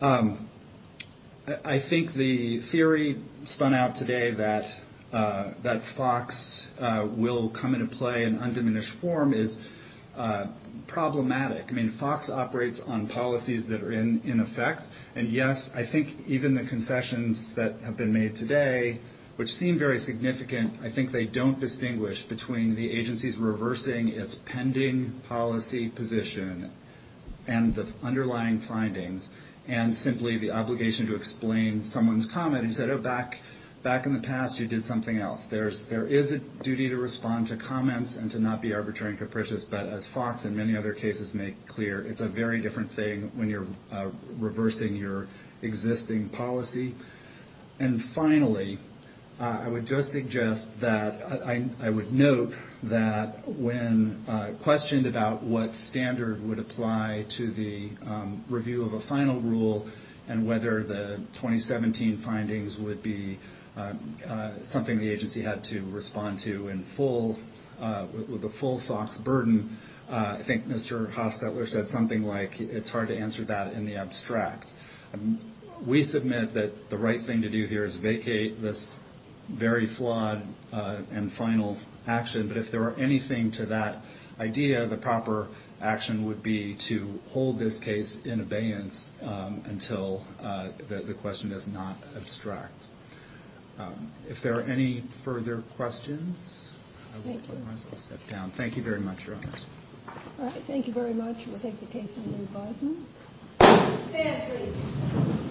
I think the theory spun out today that FOX will come into play in undiminished form is problematic. I mean, FOX operates on policies that are in effect. And yes, I think even the confessions that have been made today, which seem very significant, I think they don't distinguish between the agency's reversing its pending policy position and the underlying findings and simply the obligation to explain someone's comment. He said, oh, back in the past you did something else. There is a duty to respond to comments and to not be arbitrary and capricious. But as FOX and many other cases make clear, it's a very different thing when you're reversing your existing policy. And finally, I would note that when questioned about what standard would apply to the review of a final rule and whether the 2017 findings would be something the agency had to respond to with a full FOX burden, I think Mr. Hofstetler said something like it's hard to answer that in the abstract. We submit that the right thing to do here is vacate this very flawed and final action. But if there were anything to that idea, the proper action would be to hold this case in abeyance until the question is not abstracted. If there are any further questions, I will ask you to sit down. Thank you very much for your time. All right, thank you very much. We'll take the case to the department. Thank you.